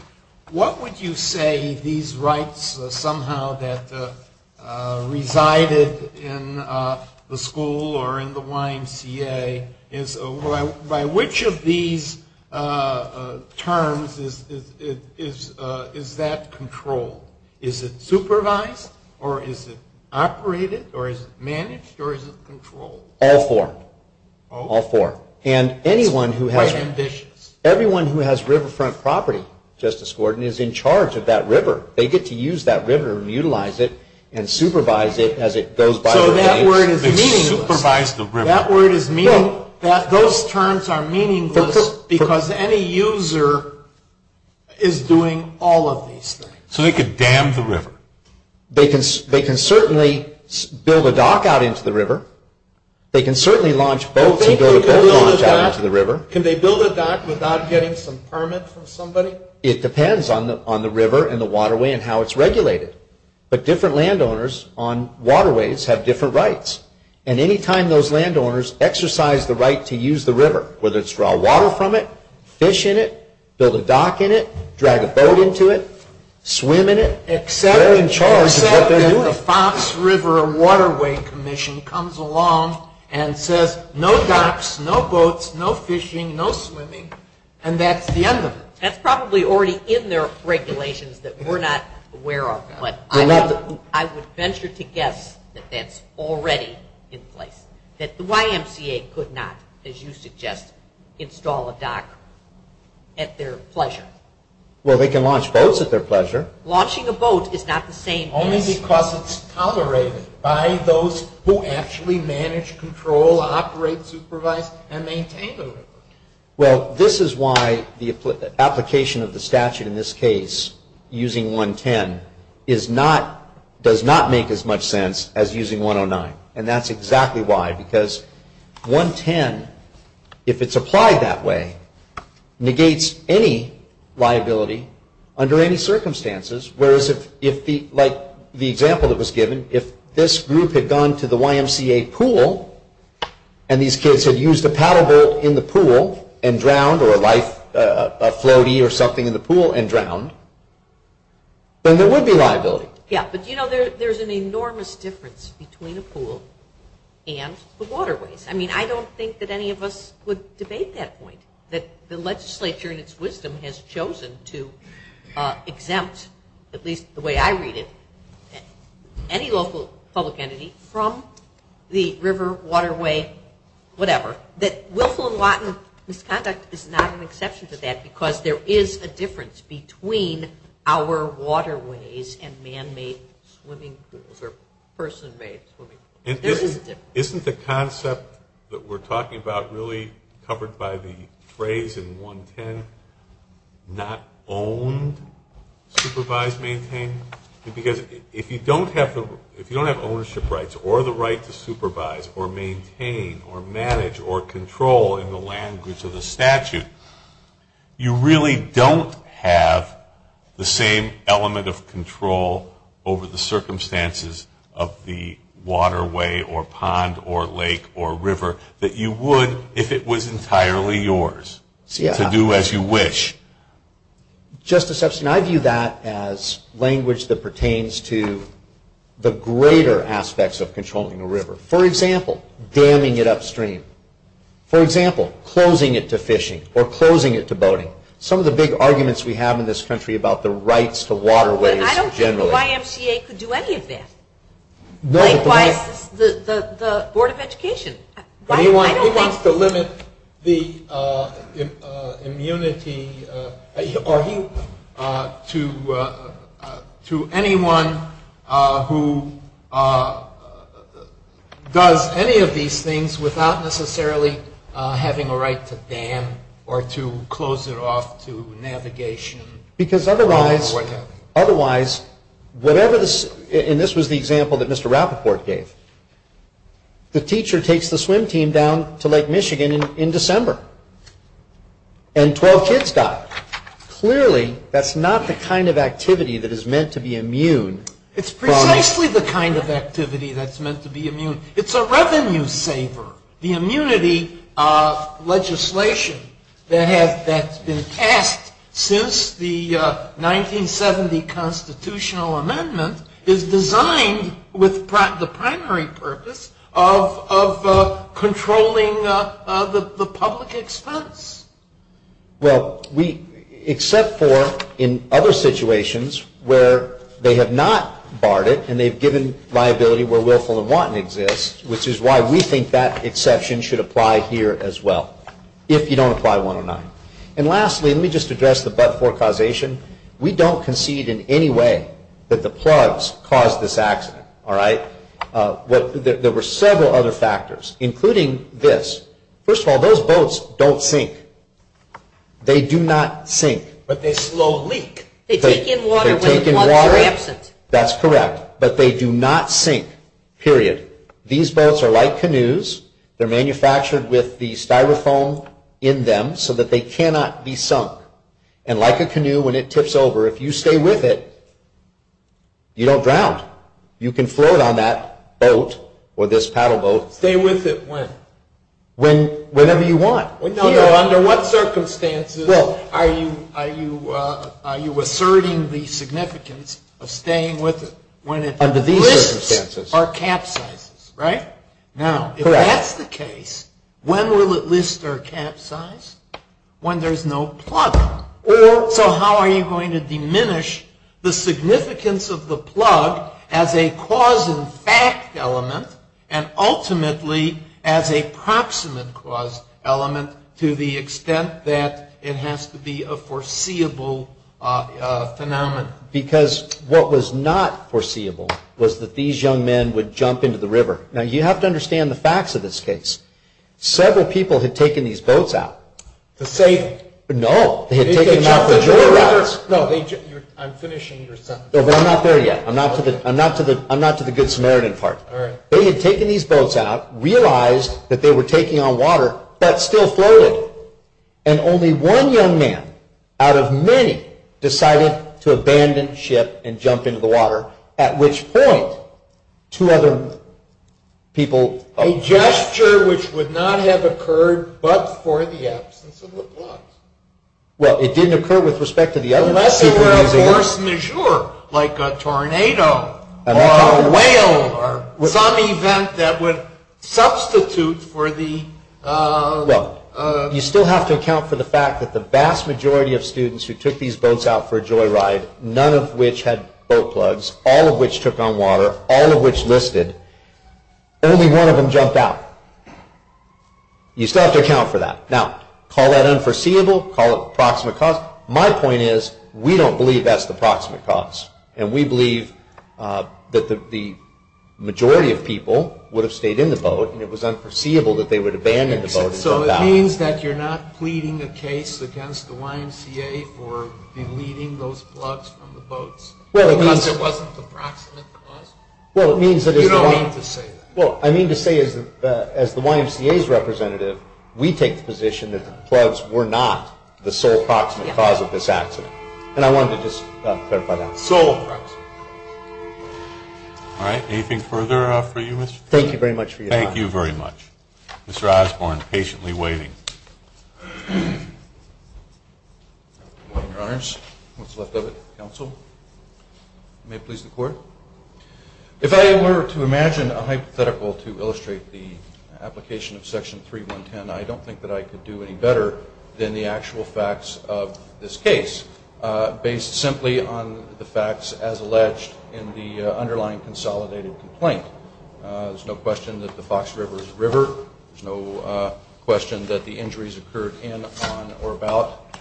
What would you say these rights somehow that resided in the school or in the YMCA, by which of these terms is that controlled? Is it supervised, or is it operated, or is it managed, or is it controlled? All four. All four. And anyone who has it. By conditions. Everyone who has riverfront property, Justice Gordon, is in charge of that river. They get to use that river and utilize it and supervise it as it goes by. So that word is meaning. Supervise the river. That word is meaning that those terms are meaningless because any user is doing all of these things. So they could dam the river. They can certainly build a dock out into the river. They can certainly launch boats into the river. Can they build a dock without getting some permit from somebody? It depends on the river and the waterway and how it's regulated. But different landowners on waterways have different rights. And any time those landowners exercise the right to use the river, whether it's draw water from it, fish in it, build a dock in it, drag a boat into it, swim in it. The Fox River Waterway Commission comes along and says no docks, no boats, no fishing, no swimming. And that's the end of it. That's probably already in their regulations that we're not aware of. But I would venture to guess that that's already in place. That the YMCA could not, as you suggest, install a dock at their pleasure. Well, they can launch boats at their pleasure. Launching a boat is not the same. Only because it's tolerated by those who actually manage, control, operate, supervise, and maintain the river. Well, this is why the application of the statute in this case, using 110, does not make as much sense as using 109. And that's exactly why. Because 110, if it's applied that way, negates any liability under any circumstances. Whereas if, like the example that was given, if this group had gone to the YMCA pool and these kids had used a paddle boat in the pool and drowned, or a floaty or something in the pool and drowned, then there would be liability. Yeah, but you know, there's an enormous difference between a pool and the waterways. I mean, I don't think that any of us would debate that point. That the legislature, in its wisdom, has chosen to exempt, at least the way I read it, any local public entity from the river, waterway, whatever. But Wilco and Lawton misconduct is not an exception to that, because there is a difference between our waterways and man-made swimming pools, or person-made swimming pools. There is a difference. Isn't the concept that we're talking about really covered by the phrase in 110, not own, supervise, maintain? Because if you don't have ownership rights, or the right to supervise, or maintain, or manage, or control in the language of the statute, you really don't have the same element of control over the circumstances of the waterway, or pond, or lake, or river, that you would if it was entirely yours to do as you wish. Justice Epstein, I view that as language that pertains to the greater aspects of controlling the river. For example, damming it upstream. For example, closing it to fishing, or closing it to boating. Some of the big arguments we have in this country about the rights to waterways, generally. I don't think YMCA could do any of that. Like, why the Board of Education? He wants to limit the immunity to anyone who does any of these things without necessarily having a right to dam, or to close it off to navigation. Because otherwise, and this was the example that Mr. Rappaport gave, the teacher takes the swim team down to Lake Michigan in December, and 12 kids die. Clearly, that's not the kind of activity that is meant to be immune. It's precisely the kind of activity that's meant to be immune. It's a revenue saver. The immunity legislation that has been passed since the 1970 constitutional amendment is designed with the primary purpose of controlling the public expense. Well, except for in other situations where they have not barred it, and they've given liability where willful and wanton exists, which is why we think that exception should apply here as well, if you don't apply 109. And lastly, let me just address the but-for causation. We don't concede in any way that the plugs caused this accident. There were several other factors, including this. First of all, those boats don't sink. They do not sink. But they slow leak. They take in water when the plugs are absent. That's correct. But they do not sink, period. These boats are like canoes. They're manufactured with the styrofoam in them so that they cannot be sunk. And like a canoe, when it tips over, if you stay with it, you don't drown. You can float on that boat or this paddle boat. Stay with it when? Whenever you want. Under what circumstances are you asserting the significance of staying with it? Under these circumstances. When it lists our capsizes, right? Now, if that's the case, when will it list our capsize? When there's no plug. So how are you going to diminish the significance of the plug as a cause and fact element and ultimately as a proximate cause element to the extent that it has to be a foreseeable phenomenon? Because what was not foreseeable was that these young men would jump into the river. Now, you have to understand the facts of this case. Several people had taken these boats out. The safety? No. Did they jump into the water? No. I'm finishing your sentence. I'm not there yet. I'm not to the good Samaritan part. All right. They had taken these boats out, realized that they were taking on water that still floated, and only one young man out of many decided to abandon the ship and jump into the water, at which point two other people jumped. A gesture which would not have occurred but for the absence of the plugs. Well, it didn't occur with respect to the others. Unless they were a force majeure, like a tornado or a whale, or some event that would substitute for the... Well, you still have to account for the fact that the vast majority of students who took these boats out for a joyride, none of which had boat plugs, all of which took on water, all of which listed, only one of them jumped out. You still have to account for that. Now, call that unforeseeable, call it proximate cause. My point is we don't believe that's the proximate cause, and we believe that the majority of people would have stayed in the boat, and it was unforeseeable that they would abandon the boat. So it means that you're not pleading the case against the YMCA for deleting those plugs from the boats. Well, it means... Because it wasn't the proximate cause. Well, it means that... You don't have to say that. Well, I mean to say as the YMCA's representative, we take the position that the plugs were not the sole proximate cause of this accident. And I wanted to just clarify that. Sole proximate. All right, anything further for you, Mr. Thank you very much for your time. Thank you very much. Mr. Osborne, patiently waiting. Thank you. Your Honors. Mr. Lefkowitz, counsel. May it please the court. If I were to imagine a hypothetical to illustrate the application of Section 3110, I don't think that I could do any better than the actual facts of this case, based simply on the facts as alleged in the underlying consolidated complaint. There's no question that the Fox River is a river. There's no question that the injuries occurred in, upon, or about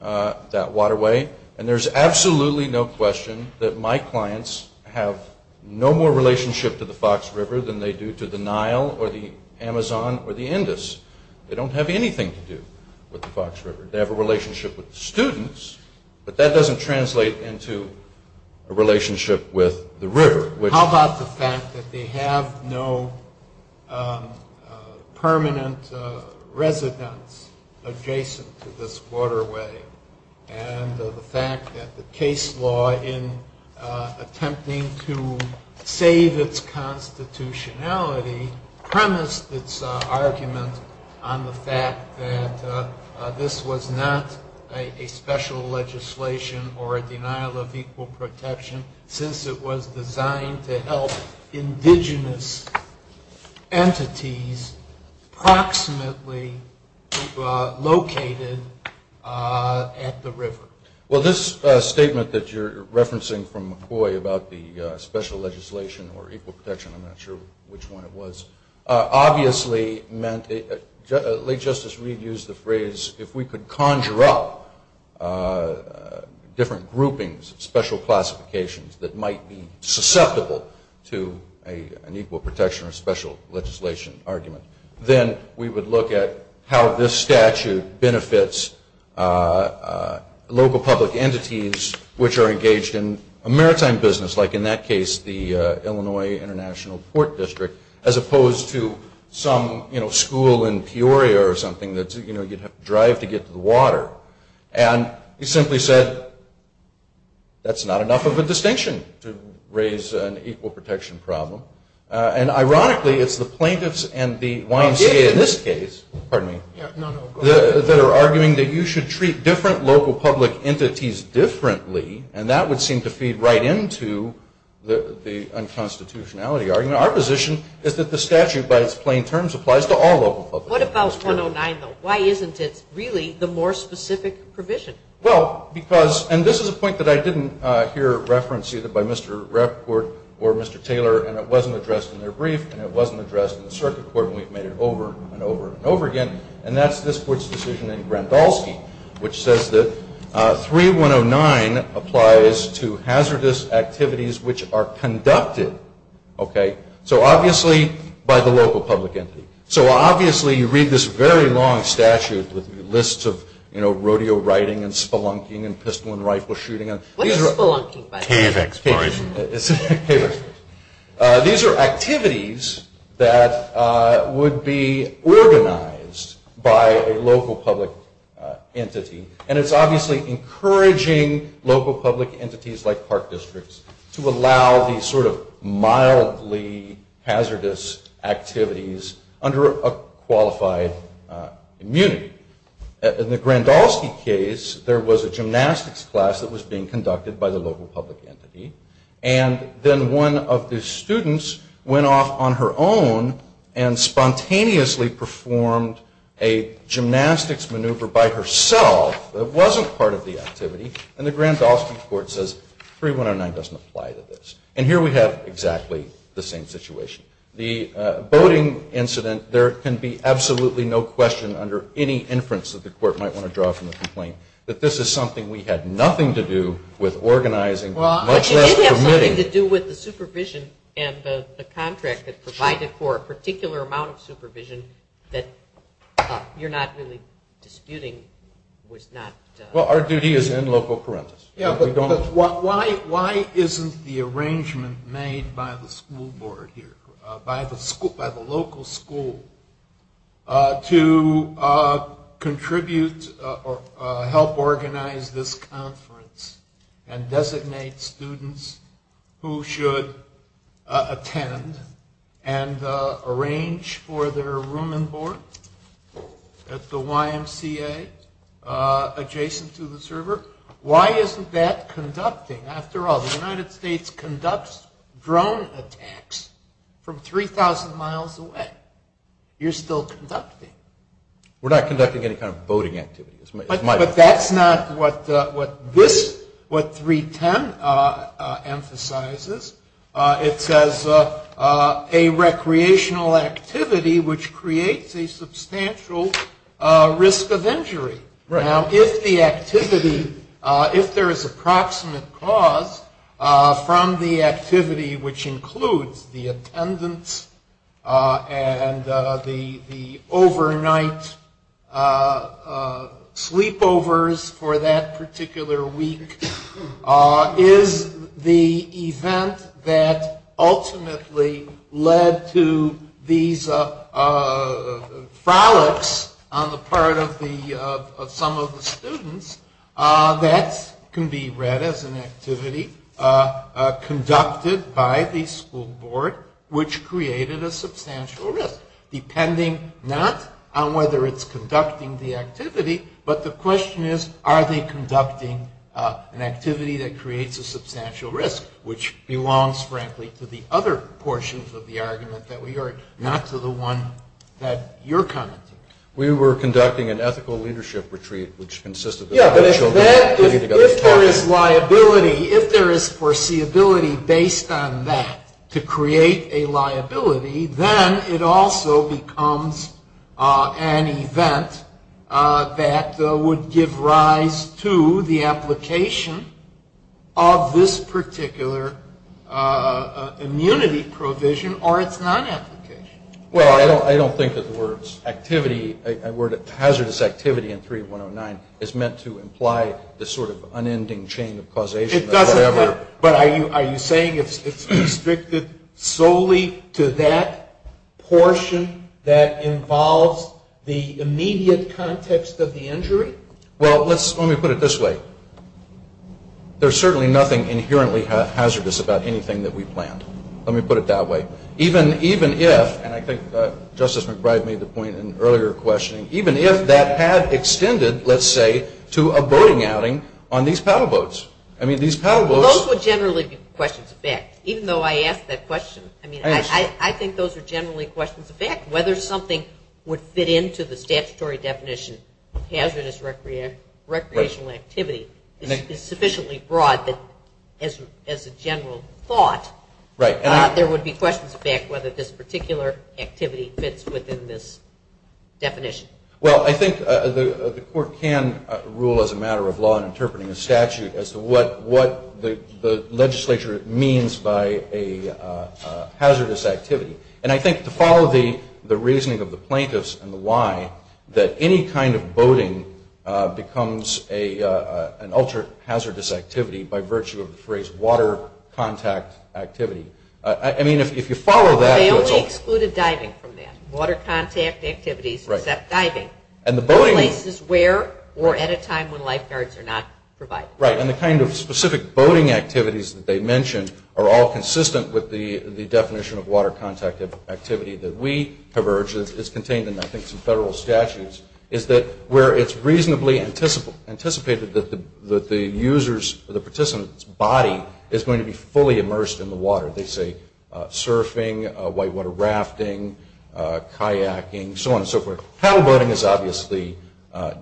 that waterway. And there's absolutely no question that my clients have no more relationship to the Fox River than they do to the Nile or the Amazon or the Indus. They don't have anything to do with the Fox River. They have a relationship with the students, How about the fact that they have no permanent residence adjacent to this waterway? And the fact that the case law, in attempting to save its constitutionality, premised its argument on the fact that this was not a special legislation or a denial of equal protection, since it was designed to help indigenous entities approximately located at the river. Well, this statement that you're referencing from McCoy about the special legislation or equal protection, I'm not sure which one it was, obviously meant, late Justice Reed used the phrase, if we could conjure up different groupings, special classifications, that might be susceptible to an equal protection or special legislation argument, then we would look at how this statute benefits local public entities which are engaged in a maritime business, like in that case the Illinois International Port District, as opposed to some school in Peoria or something that you'd have to drive to get to the water. And he simply said, that's not enough of a distinction to raise an equal protection problem. And ironically, it's the plaintiffs and the YMCA in this case, pardon me, that are arguing that you should treat different local public entities differently, and that would seem to feed right into the unconstitutionality argument. And our position is that the statute, by its plain terms, applies to all local public entities. What about 109, though? Why isn't it really the more specific provision? Well, because, and this is a point that I didn't hear referenced either by Mr. Report or Mr. Taylor, and it wasn't addressed in their brief, and it wasn't addressed in the circuit court, and we've made it over and over and over again, and that's this court's decision in Grandalski, which says that 3109 applies to hazardous activities which are conducted, okay, so obviously by the local public entity. So obviously you read this very long statute with the list of, you know, rodeo riding and spelunking and pistol and rifle shooting. Taylor, excuse me. These are activities that would be organized by a local public entity, and it's obviously encouraging local public entities like park districts to allow these sort of mildly hazardous activities under a qualified immunity. In the Grandalski case, there was a gymnastics class that was being conducted by the local public entity, and then one of the students went off on her own and spontaneously performed a gymnastics maneuver by herself that wasn't part of the activity, and the Grandalski court says 3109 doesn't apply to this. And here we have exactly the same situation. The boating incident, there can be absolutely no question under any inference that the court might want to draw from the complaint that this is something we had nothing to do with organizing, much less permitting. It had nothing to do with the supervision and the contract that provided for a particular amount of supervision that you're not really disputing was not... Well, our duty is in local courts. Why isn't the arrangement made by the school board here, by the local school to contribute or help organize this conference and designate students who should attend and arrange for their room and board at the YMCA adjacent to the server? Why isn't that conducting? After all, the United States conducts drone attacks from 3,000 miles away. You're still conducting. We're not conducting any kind of boating activity. But that's not what this, what 310 emphasizes. It says a recreational activity which creates a substantial risk of injury. Now, if the activity, if there is a proximate cause from the activity, which includes the attendance and the overnight sleepovers for that particular week, is the event that ultimately led to these frolics on the part of some of the students, that can be read as an activity conducted by the school board, which created a substantial risk, depending not on whether it's conducting the activity, but the question is, are they conducting an activity that creates a substantial risk, which belongs, frankly, to the other portions of the argument that we heard, not to the one that you're commenting on. We were conducting an ethical leadership retreat, which consisted of children. If there is liability, if there is foreseeability based on that to create a liability, then it also becomes an event that would give rise to the application of this particular immunity provision, or its non-application. Well, I don't think that the word activity, the word hazardous activity in 3109, is meant to imply this sort of unending chain of causation of whatever. But are you saying it's restricted solely to that portion that involves the immediate context of the injury? Well, let me put it this way. There's certainly nothing inherently hazardous about anything that we plant. Let me put it that way. Even if, and I think Justice McBride made the point in earlier questioning, even if that had extended, let's say, to a boating outing on these paddle boats. Those would generally be questions of fact, even though I asked that question. I think those are generally questions of fact. Whether something would fit into the statutory definition, hazardous recreational activity, is sufficiently broad as a general thought. There would be questions of fact whether this particular activity fits within this definition. Well, I think the court can rule as a matter of law in interpreting a statute as to what the legislature means by a hazardous activity. And I think to follow the reasoning of the plaintiffs and the why, that any kind of boating becomes an ultra-hazardous activity by virtue of the phrase water contact activity. I mean, if you follow that... They only excluded diving from that. Water contact activities except diving. No places where or at a time when lifeguards are not provided. Right, and the kind of specific boating activities that they mentioned are all consistent with the definition of water contact activity that we have urged. It's contained in, I think, some federal statutes, is that where it's reasonably anticipated that the user's or the participant's body is going to be fully immersed in the water. They say surfing, whitewater rafting, kayaking, so on and so forth. Paddle boating is obviously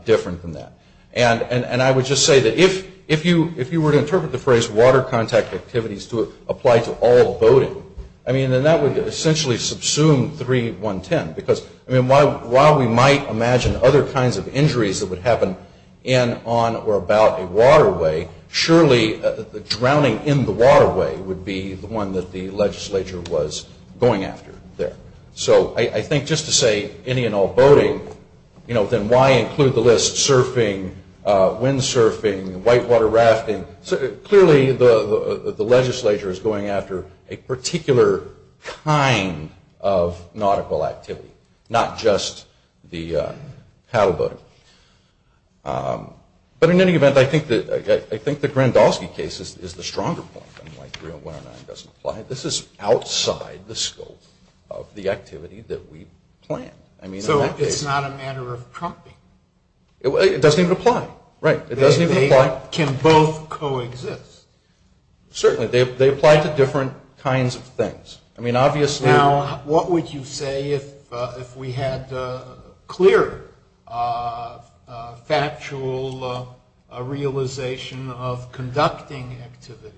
different from that. And I would just say that if you were to interpret the phrase water contact activities to apply to all boating, I mean, then that would essentially subsume 3-1-10 because while we might imagine other kinds of injuries that would happen in, on, or about a waterway, surely the drowning in the waterway would be the one that the legislature was going after there. So I think just to say any and all boating, then why include the list surfing, windsurfing, whitewater rafting? Clearly the legislature is going after a particular kind of nautical activity, not just the paddle boating. But in any event, I think the Grandoski case is the stronger point. I mean, like 3-1-9 doesn't apply. This is outside the scope of the activity that we plan. So it's not a matter of prompting? It doesn't even apply. Right. They can both coexist. Certainly. They apply to different kinds of things. Now, what would you say if we had a clearer factual realization of conducting activities?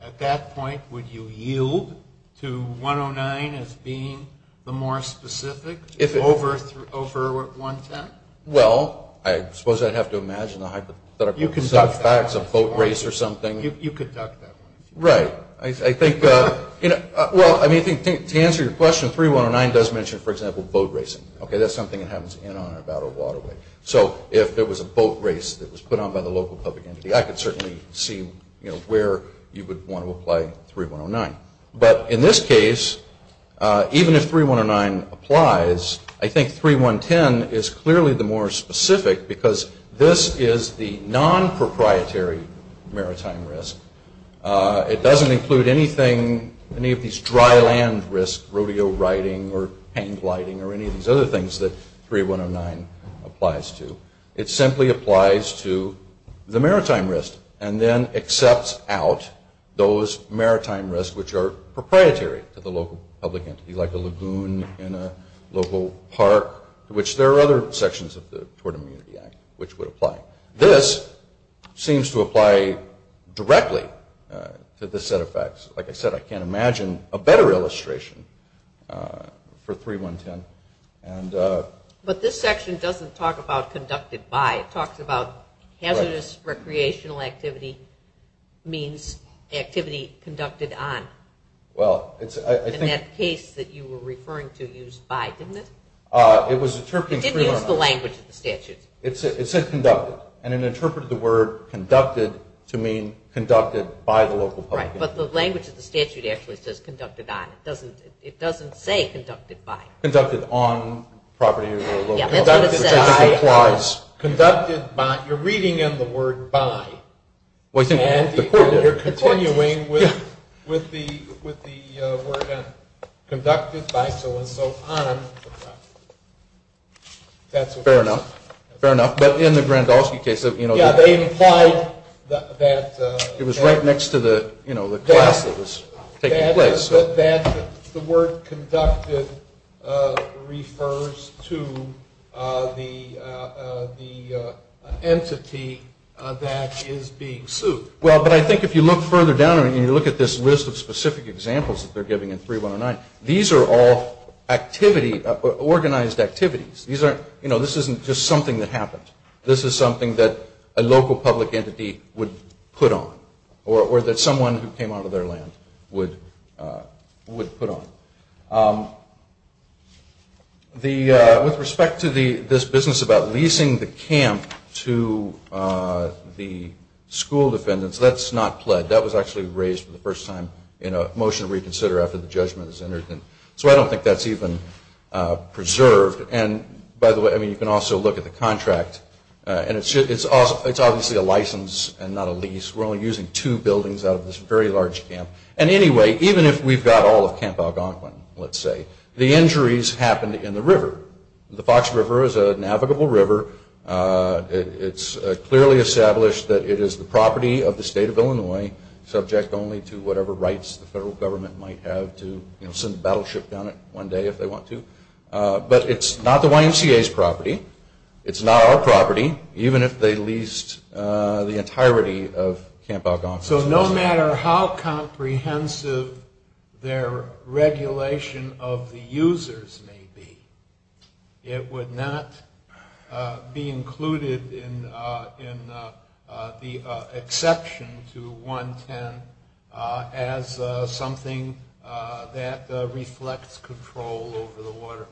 At that point, would you yield to 1-0-9 as being the more specific over 1-10? Well, I suppose I'd have to imagine the hypothetical facts of boat race or something. You conduct them. Right. To answer your question, 3-1-9 does mention, for example, boat racing. That's something that happens in and out of Waterway. So if it was a boat race that was put on by the local public entity, I could certainly see where you would want to apply 3-1-9. But in this case, even if 3-1-9 applies, I think 3-1-10 is clearly the more specific because this is the non-proprietary maritime risk. It doesn't include any of these dry land risks, rodeo riding or hang gliding or any of these other things that 3-1-09 applies to. It simply applies to the maritime risk and then accepts out those maritime risks which are proprietary to the local public entity, like a lagoon in a local park, which there are other sections of the Tort Immunity Act which would apply. This seems to apply directly to this set of facts. Like I said, I can't imagine a better illustration for 3-1-10. But this section doesn't talk about conducted by. It talks about hazardous recreational activity means activity conducted on. And that case that you were referring to used by, didn't it? It was interpreting 3-1-10. It didn't use the language of the statute. It said conducted. And it interpreted the word conducted to mean conducted by the local public entity. But the language of the statute actually says conducted on. It doesn't say conducted by. Conducted on property of the local public entity. Conducted by. You're reading in the word by. And they're continuing with the word conducted by, so on and so on. Fair enough. Fair enough. But in the Grandolski case, you know. Yeah, they implied that. It was right next to the, you know, the class that was taking place. The word conducted refers to the entity that is being sued. Well, but I think if you look further down and you look at this list of specific examples that they're giving in 3-1-09, these are all organized activities. You know, this isn't just something that happens. This is something that a local public entity would put on. Or that someone who came out of their land would put on. With respect to this business about leasing the camp to the school defendants, that's not pled. That was actually raised for the first time in a motion to reconsider after the judgment was entered. So I don't think that's even preserved. And, by the way, I mean you can also look at the contract. And it's obviously a license and not a lease. We're only using two buildings out of this very large camp. And anyway, even if we've got all of Camp Algonquin, let's say, the injuries happened in the river. The Fox River is a navigable river. It's clearly established that it is the property of the state of Illinois, subject only to whatever rights the federal government might have to, you know, send a battleship down it one day if they want to. But it's not the YMCA's property. It's not our property, even if they leased the entirety of Camp Algonquin. So no matter how comprehensive their regulation of the users may be, it would not be included in the exception to 110 as something that reflects control over the waterway.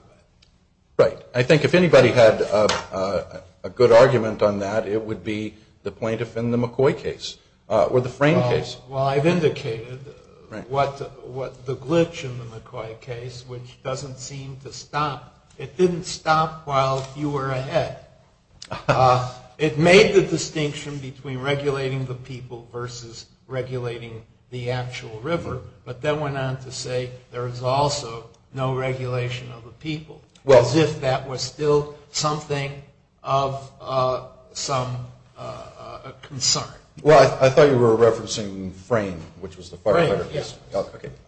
Right. I think if anybody had a good argument on that, it would be the plaintiff in the McCoy case, or the Frame case. Well, I've indicated what the glitch in the McCoy case, which doesn't seem to stop. It didn't stop while you were ahead. It made the distinction between regulating the people versus regulating the actual river, but then went on to say there is also no regulation of the people, as if that was still something of some concern. Well, I thought you were referencing Frame, which was the firefighter. Right, yes.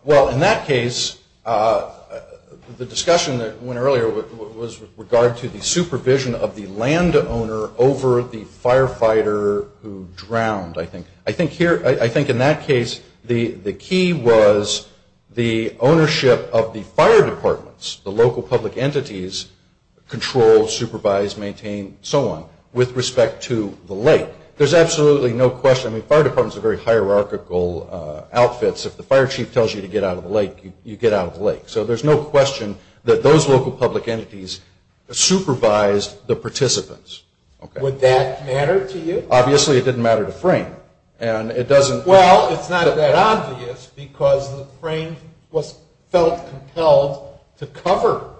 Well, in that case, the discussion that went earlier was with regard to the supervision of the landowner over the firefighter who drowned, I think. I think in that case, the key was the ownership of the fire departments, the local public entities, control, supervise, maintain, so on, with respect to the lake. There's absolutely no question. I mean, fire departments are very hierarchical outfits. If the fire chief tells you to get out of the lake, you get out of the lake. So there's no question that those local public entities supervised the participants. Would that matter to you? Obviously, it didn't matter to Frame. Well, it's not that obvious because Frame was so compelled to cover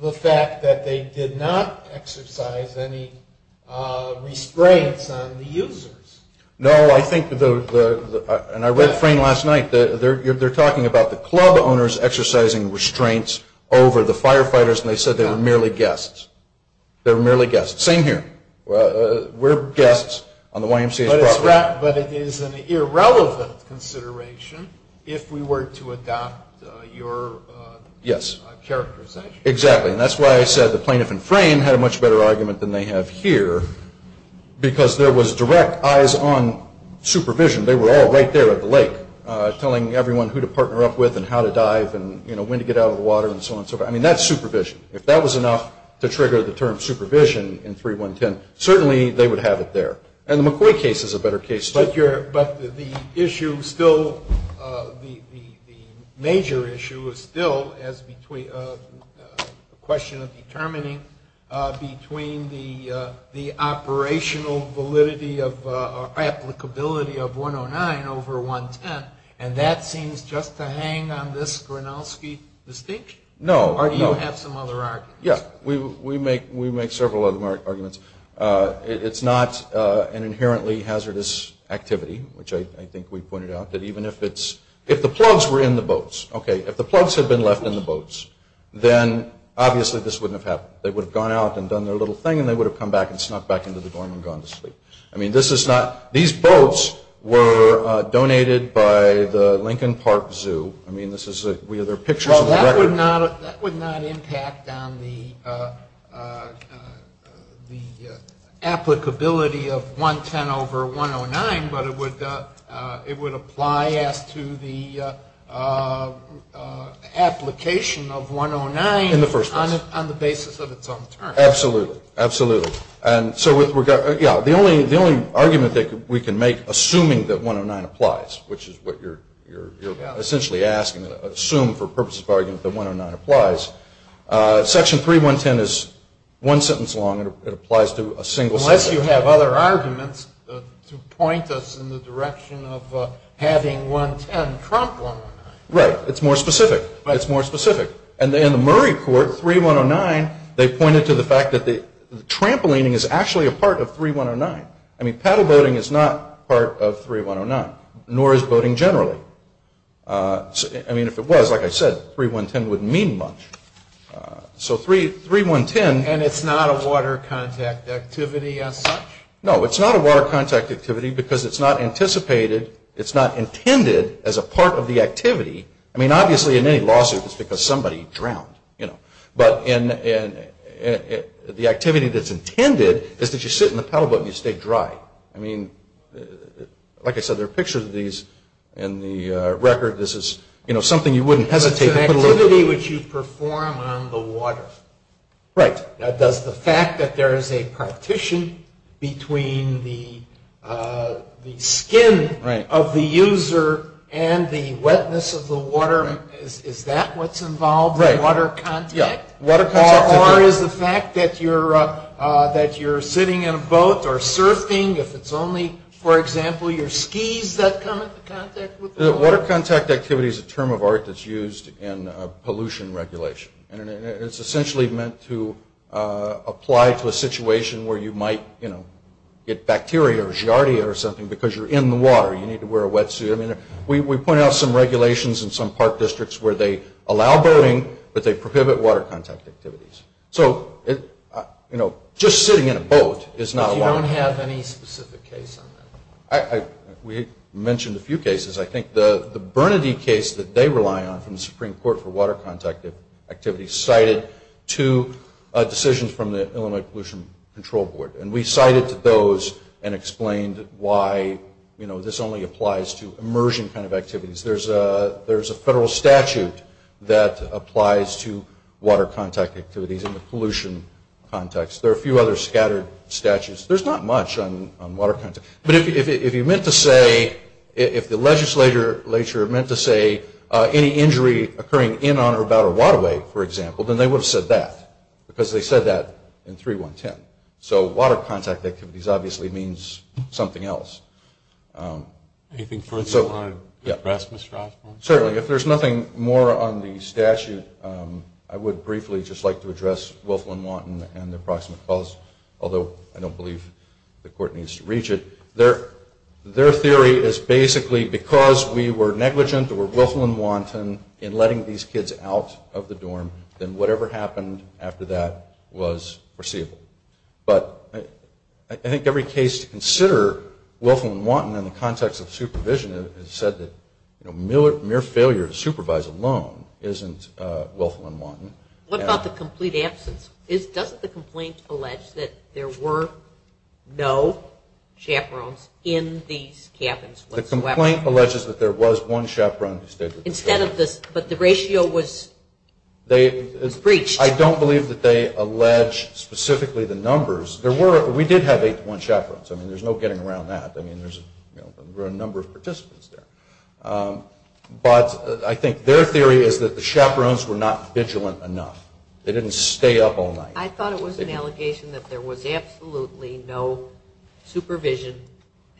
the fact that they did not exercise any restraints on the users. No, I think, and I read Frame last night, they're talking about the club owners exercising restraints over the firefighters, and they said they were merely guests. They were merely guests. Same here. We're guests on the YMCA. But it is an irrelevant consideration if we were to adopt your characterization. Yes, exactly. And that's why I said the plaintiff and Frame had a much better argument than they have here because there was direct eyes on supervision. They were all right there at the lake telling everyone who to partner up with and how to dive and when to get out of the water and so on and so forth. I mean, that's supervision. If that was enough to trigger the term supervision in 3.110, certainly they would have it there. And the McCoy case is a better case. But the issue still, the major issue is still a question of determining between the operational validity or applicability of 1.09 over 1.10, and that seems just to hang on this Gronowski distinction. No. Do you have some other arguments? Yeah. We make several other arguments. It's not an inherently hazardous activity, which I think we pointed out, that even if it's – if the plugs were in the boats, okay, if the plugs had been left in the boats, then obviously this wouldn't have happened. They would have gone out and done their little thing, and they would have come back and snuck back into the dorm and gone to sleep. I mean, this is not – these boats were donated by the Lincoln Park Zoo. Well, that would not impact on the applicability of 1.10 over 1.09, but it would apply to the application of 1.09 on the basis of its own terms. Absolutely. And so, yeah, the only argument that we can make, assuming that 1.09 applies, which is what you're essentially asking, assume for purposes of argument that 1.09 applies, Section 3.110 is one sentence long. It applies to a single sentence. Unless you have other arguments to point us in the direction of having 1.10 trump 1.09. Right. It's more specific. It's more specific. And in the Murray court, 3.109, they pointed to the fact that the trampolining is actually a part of 3.109. I mean, paddle boating is not part of 3.109, nor is boating generally. I mean, if it was, like I said, 3.110 wouldn't mean much. So 3.110 – And it's not a water contact activity as such? No, it's not a water contact activity because it's not anticipated, it's not intended as a part of the activity. I mean, obviously, in any lawsuit, it's because somebody drowned. But the activity that's intended is that you sit in the paddle boat and you stay dry. I mean, like I said, there are pictures of these in the record. This is something you wouldn't hesitate to look at. It's an activity which you perform on the water. Right. Does the fact that there is a partition between the skin of the user and the wetness of the water, is that what's involved in water contact? Yeah. Or is the fact that you're sitting in a boat or surfing, if it's only, for example, your skis that come into contact with the water? Water contact activity is a term of art that's used in pollution regulation. And it's essentially meant to apply to a situation where you might get bacteria or giardia or something because you're in the water, you need to wear a wetsuit. I mean, we point out some regulations in some park districts where they allow boating, but they prohibit water contact activities. So just sitting in a boat is not allowed. You don't have any specific case on that? We mentioned a few cases. I think the Bernadine case that they rely on from the Supreme Court for water contact activity cited two decisions from the Illinois Pollution Control Board. And we cited those and explained why this only applies to immersion kind of activities. There's a federal statute that applies to water contact activities in the pollution context. There are a few other scattered statutes. There's not much on water contact. But if you meant to say, if the legislature meant to say, any injury occurring in or about a waterway, for example, then they would have said that because they said that in 3.1.10. So water contact activities obviously means something else. Anything further you want to address, Mr. Osborne? Certainly. If there's nothing more on the statute, I would briefly just like to address Wilflin-Wanton and their proximate cause, although I don't believe the court needs to reach it. Their theory is basically because we were negligent or Wilflin-Wanton in letting these kids out of the dorm, then whatever happened after that was foreseeable. But I think every case to consider Wilflin-Wanton in the context of supervision has said that mere failure to supervise alone isn't Wilflin-Wanton. What about the complete absence? Doesn't the complaint allege that there were no chaperones in these cabinets? The complaint alleges that there was one chaperone in the state that was there. But the ratio was breached. I don't believe that they allege specifically the numbers. We did have eight to one chaperones. There's no getting around that. There were a number of participants there. But I think their theory is that the chaperones were not vigilant enough. They didn't stay up all night. I thought it was an allegation that there was absolutely no supervision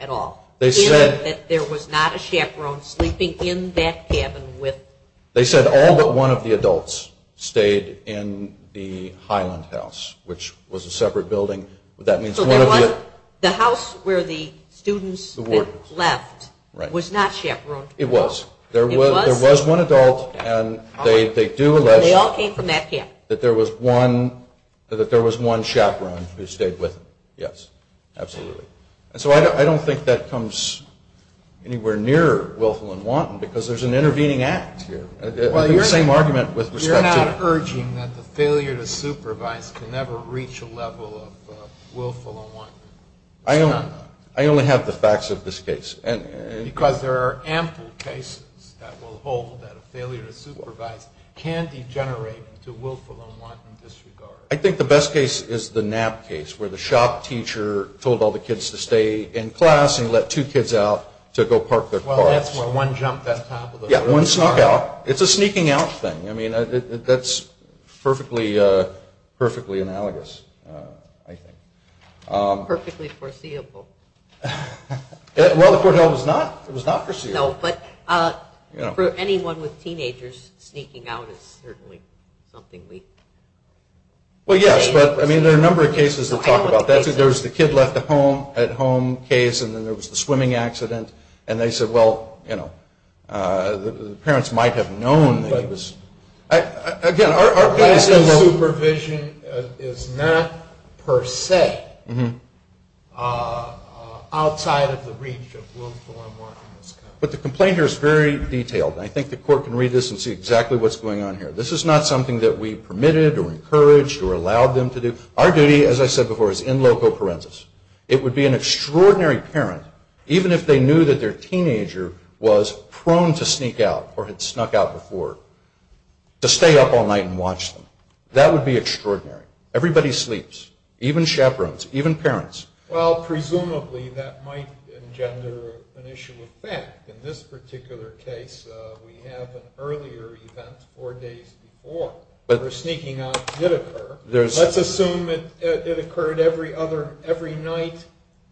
at all. They said that there was not a chaperone sleeping in that cabin with... They said all but one of the adults stayed in the Highland House, which was a separate building. That means one of the... So the house where the students left was not chaperoned? It was. There was one adult, and they do allege that there was one chaperone who stayed with them. Yes, absolutely. So I don't think that comes anywhere near Wilflin-Wanton because there's an intervening act here. It's the same argument with respect to... You're not urging that the failure to supervise will never reach a level of Wilflin-Wanton? I only have the facts of this case. Because there are ample cases that will hold that a failure to supervise can degenerate to Wilflin-Wanton disregard. I think the best case is the nap case where the shop teacher told all the kids to stay in class and let two kids out to go park their cars. Well, that's where one jumped on top of the other. Yeah, one snuck out. It's a sneaking out thing. I mean, that's perfectly analogous, I think. Perfectly foreseeable. Well, it was not foreseeable. No, but for anyone with teenagers, sneaking out is certainly something we... Well, yes, but I mean, there are a number of cases that talk about that. There's the kid left at home case, and then there was the swimming accident, and they said, well, you know, the parents might have known. Again, our case of supervision is not per se outside of the reach of Wilflin-Wanton. But the complaint here is very detailed, and I think the court can read this and see exactly what's going on here. This is not something that we permitted or encouraged or allowed them to do. Our duty, as I said before, is in loco parentis. It would be an extraordinary parent, even if they knew that their teenager was prone to sneak out or had snuck out before, to stay up all night and watch them. That would be extraordinary. Everybody sleeps, even chaperones, even parents. Well, presumably that might engender an issue of fact. In this particular case, we have an earlier event four days before. But the sneaking out did occur. Let's assume that it occurred every night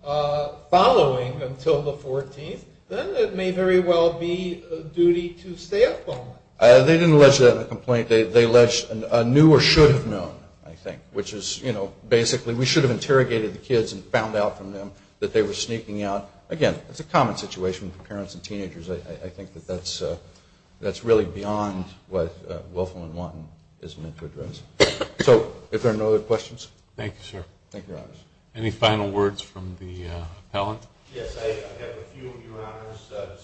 following until the 14th. Then it may very well be a duty to stay up all night. They didn't let you have a complaint. They alleged a knew or should have known, I think, which is, you know, basically we should have interrogated the kids and found out from them that they were sneaking out. Again, it's a common situation for parents and teenagers. I think that that's really beyond what Wilflin-Wanton is meant to address. So, are there no other questions? Thank you, sir. Thank you. Any final words from the appellant? Yes, I have a few, Your Honors.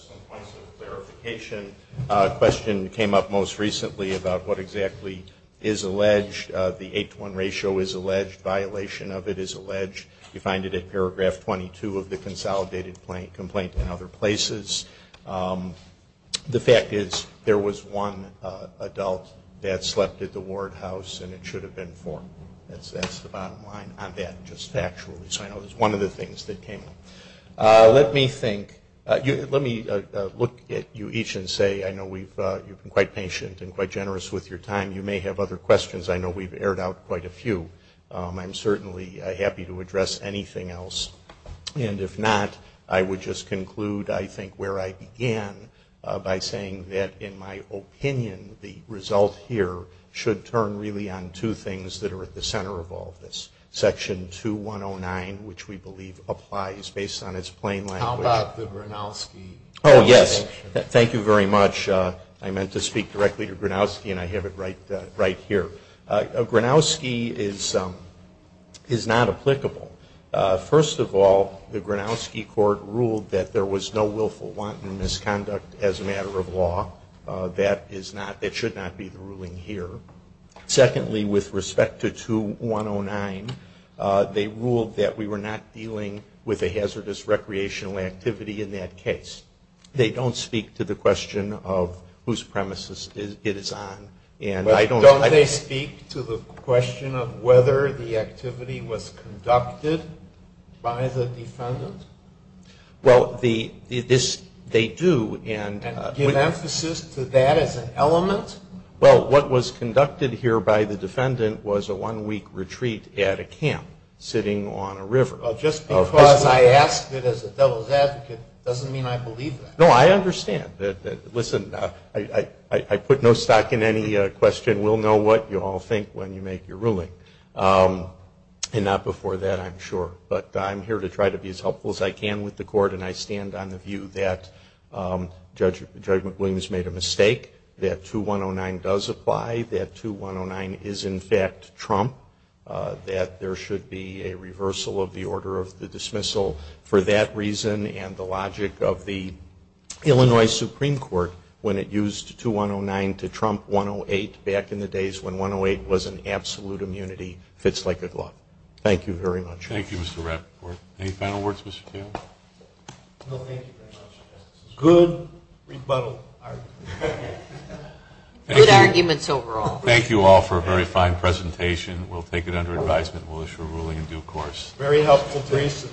Some points of clarification. A question came up most recently about what exactly is alleged. The 8 to 1 ratio is alleged. Violation of it is alleged. You find it in paragraph 22 of the consolidated complaint and other places. The fact is there was one adult that slept at the ward house and it should have been formed. That's the bottom line on that. It was one of the things that came up. Let me look at you each and say I know you've been quite patient and quite generous with your time. You may have other questions. I know we've aired out quite a few. I'm certainly happy to address anything else. If not, I would just conclude, I think, where I began by saying that, in my opinion, the result here should turn really on two things that are at the center of all this. Section 2109, which we believe applies based on its plain language. How about the Gronowski? Oh, yes. Thank you very much. I meant to speak directly to Gronowski and I have it right here. Gronowski is not applicable. First of all, the Gronowski court ruled that there was no willful wanton misconduct as a matter of law. That should not be the ruling here. Secondly, with respect to 2109, they ruled that we were not dealing with a hazardous recreational activity in that case. They don't speak to the question of whose premises it is on. Don't they speak to the question of whether the activity was conducted by the defendant? Well, they do. Give emphasis to that as an element? Well, what was conducted here by the defendant was a one-week retreat at a camp sitting on a river. Just because I asked it as a devil's advocate doesn't mean I believe that. No, I understand. Listen, I put no stock in any question. We'll know what you all think when you make your ruling. And not before that, I'm sure. But I'm here to try to be as helpful as I can with the court, and I stand on the view that Judge McWilliams made a mistake, that 2109 does apply, that 2109 is in fact Trump, that there should be a reversal of the order of the dismissal for that reason and the logic of the Illinois Supreme Court when it used 2109 to Trump 108 back in the days when 108 was an absolute immunity. Fits like a glove. Thank you very much. Thank you, Mr. Rett. Any final words, Mr. Cooley? No, thank you very much. Good rebuttal arguments. Good arguments overall. Thank you all for a very fine presentation. We'll take it under advisement. We'll issue a ruling in due course. Very helpful briefs.